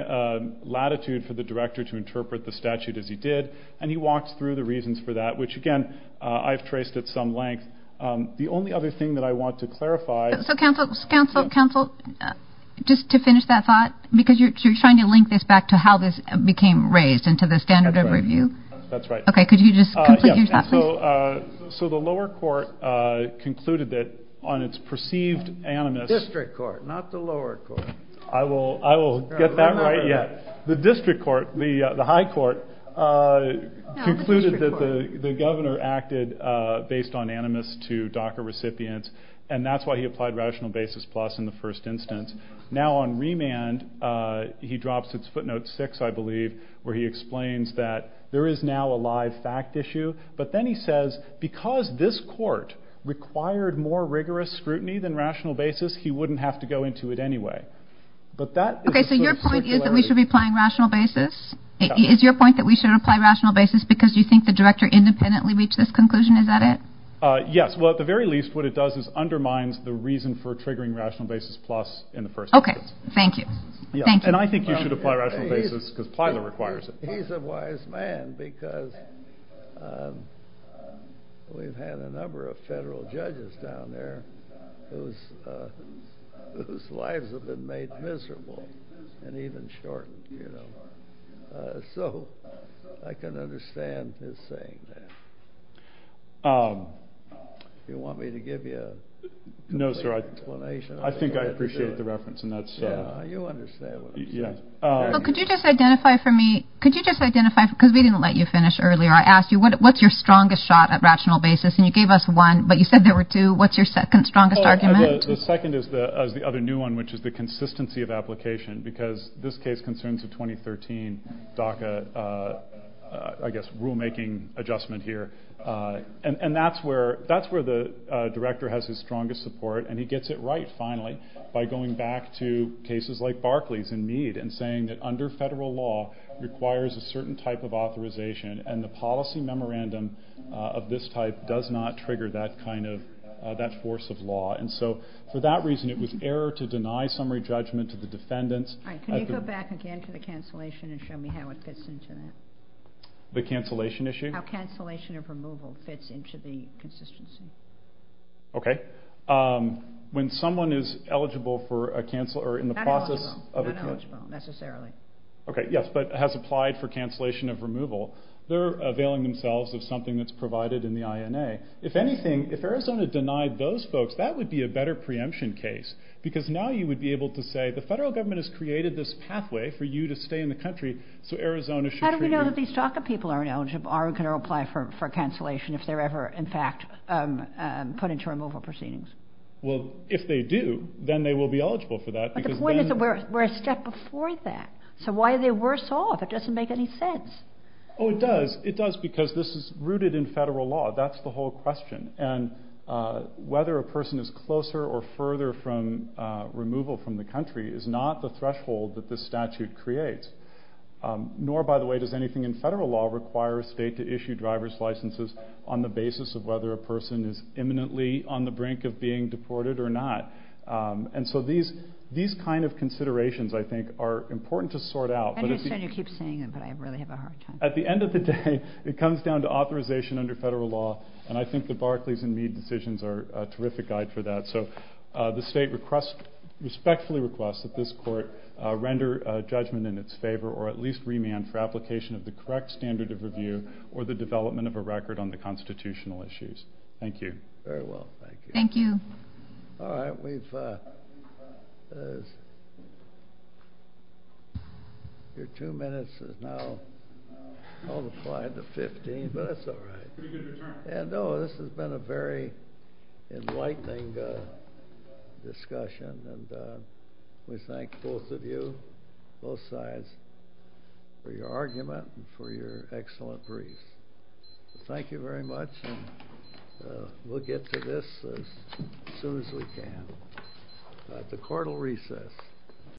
latitude for the director to interpret the statute as he did, and he walked through the reasons for that, which, again, I've traced at some length. The only other thing that I want to clarify... So, counsel, counsel, counsel, just to finish that thought, because you're trying to link this back to how this became raised and to the standard of review. That's right. Okay, could you just complete your thought, please? So, the lower court concluded that on its perceived animus... District court, not the lower court. I will get that right yet. The district court, the high court, concluded that the governor acted based on animus to DACA recipients, and that's why he applied rational basis plus in the first instance. Now, on remand, he drops its footnote six, I believe, where he explains that there is now a live fact issue, but then he says, because this court required more rigorous scrutiny than rational basis, he wouldn't have to go into it anyway. But that... Okay, so your point is that we should be applying rational basis? Is your point that we should apply rational basis because you think the director independently reached this conclusion? Is that it? Yes. Well, at the very least, what it does is undermine the reason for triggering rational basis plus in the first instance. Okay. Thank you. Thank you. And I think you should apply rational basis because Plyler requires it. He's a wise man because we've had a number of federal judges down there whose lives have been made miserable and even shortened, you know. So I can understand his saying there. Do you want me to give you an explanation? No, sir. I think I appreciate the reference, and that's... Yeah, you understand what I'm saying. Yeah. Could you just identify for me... Could you just identify because we didn't let you finish earlier. I asked you what's your strongest shot at rational basis, and you gave us one, but you said there were two. What's your second strongest argument? The second is the other new one, which is the consistency of application because this case concerns the 2013 DACA, I guess, rulemaking adjustment here. And that's where the director has his strongest support, and he gets it right finally by going back to cases like Barclays and Mead and saying that under federal law requires a certain type of authorization, and the policy memorandum of this type does not trigger that kind of... that force of law. And so for that reason, it was error to deny summary judgment to the defendants. Can you go back again to the cancellation and show me how it fits into that? The cancellation issue? How cancellation of removal fits into the consistency. Okay. When someone is eligible for a... Not eligible. Not eligible necessarily. Okay, yes, but has applied for cancellation of removal, they're availing themselves of something that's provided in the INA. If anything, if Arizona denied those folks, that would be a better preemption case because now you would be able to say the federal government has created this pathway for you to stay in the country, so Arizona should... How do we know that these DACA people aren't eligible, aren't going to apply for cancellation if they're ever, in fact, put into removal proceedings? Well, if they do, then they will be eligible for that because... But the point is that we're a step before that. So why are they worse off? It doesn't make any sense. Oh, it does. It does because this is rooted in federal law. That's the whole question. And whether a person is closer or further from removal from the country is not the threshold that this statute creates. Nor, by the way, does anything in federal law require a state to issue driver's licenses on the basis of whether a person is imminently on the brink of being deported or not. And so these kind of considerations, I think, are important to sort out. And you keep saying it, but I really have a hard time... At the end of the day, it comes down to authorization under federal law, and I think the Barclays and Mead decisions are a terrific guide for that. So the state respectfully requests that this court render judgment in its favor or at least remand for application of the correct standard of review or the development of a record on the constitutional issues. Thank you. Very well. Thank you. Thank you. All right. We've got... Your two minutes have now multiplied to 15, but that's all right. And no, this has been a very enlightening discussion, and we thank both of you, both sides, for your argument and for your excellent brief. Thank you very much, and we'll get to this as soon as we can. The court will recess.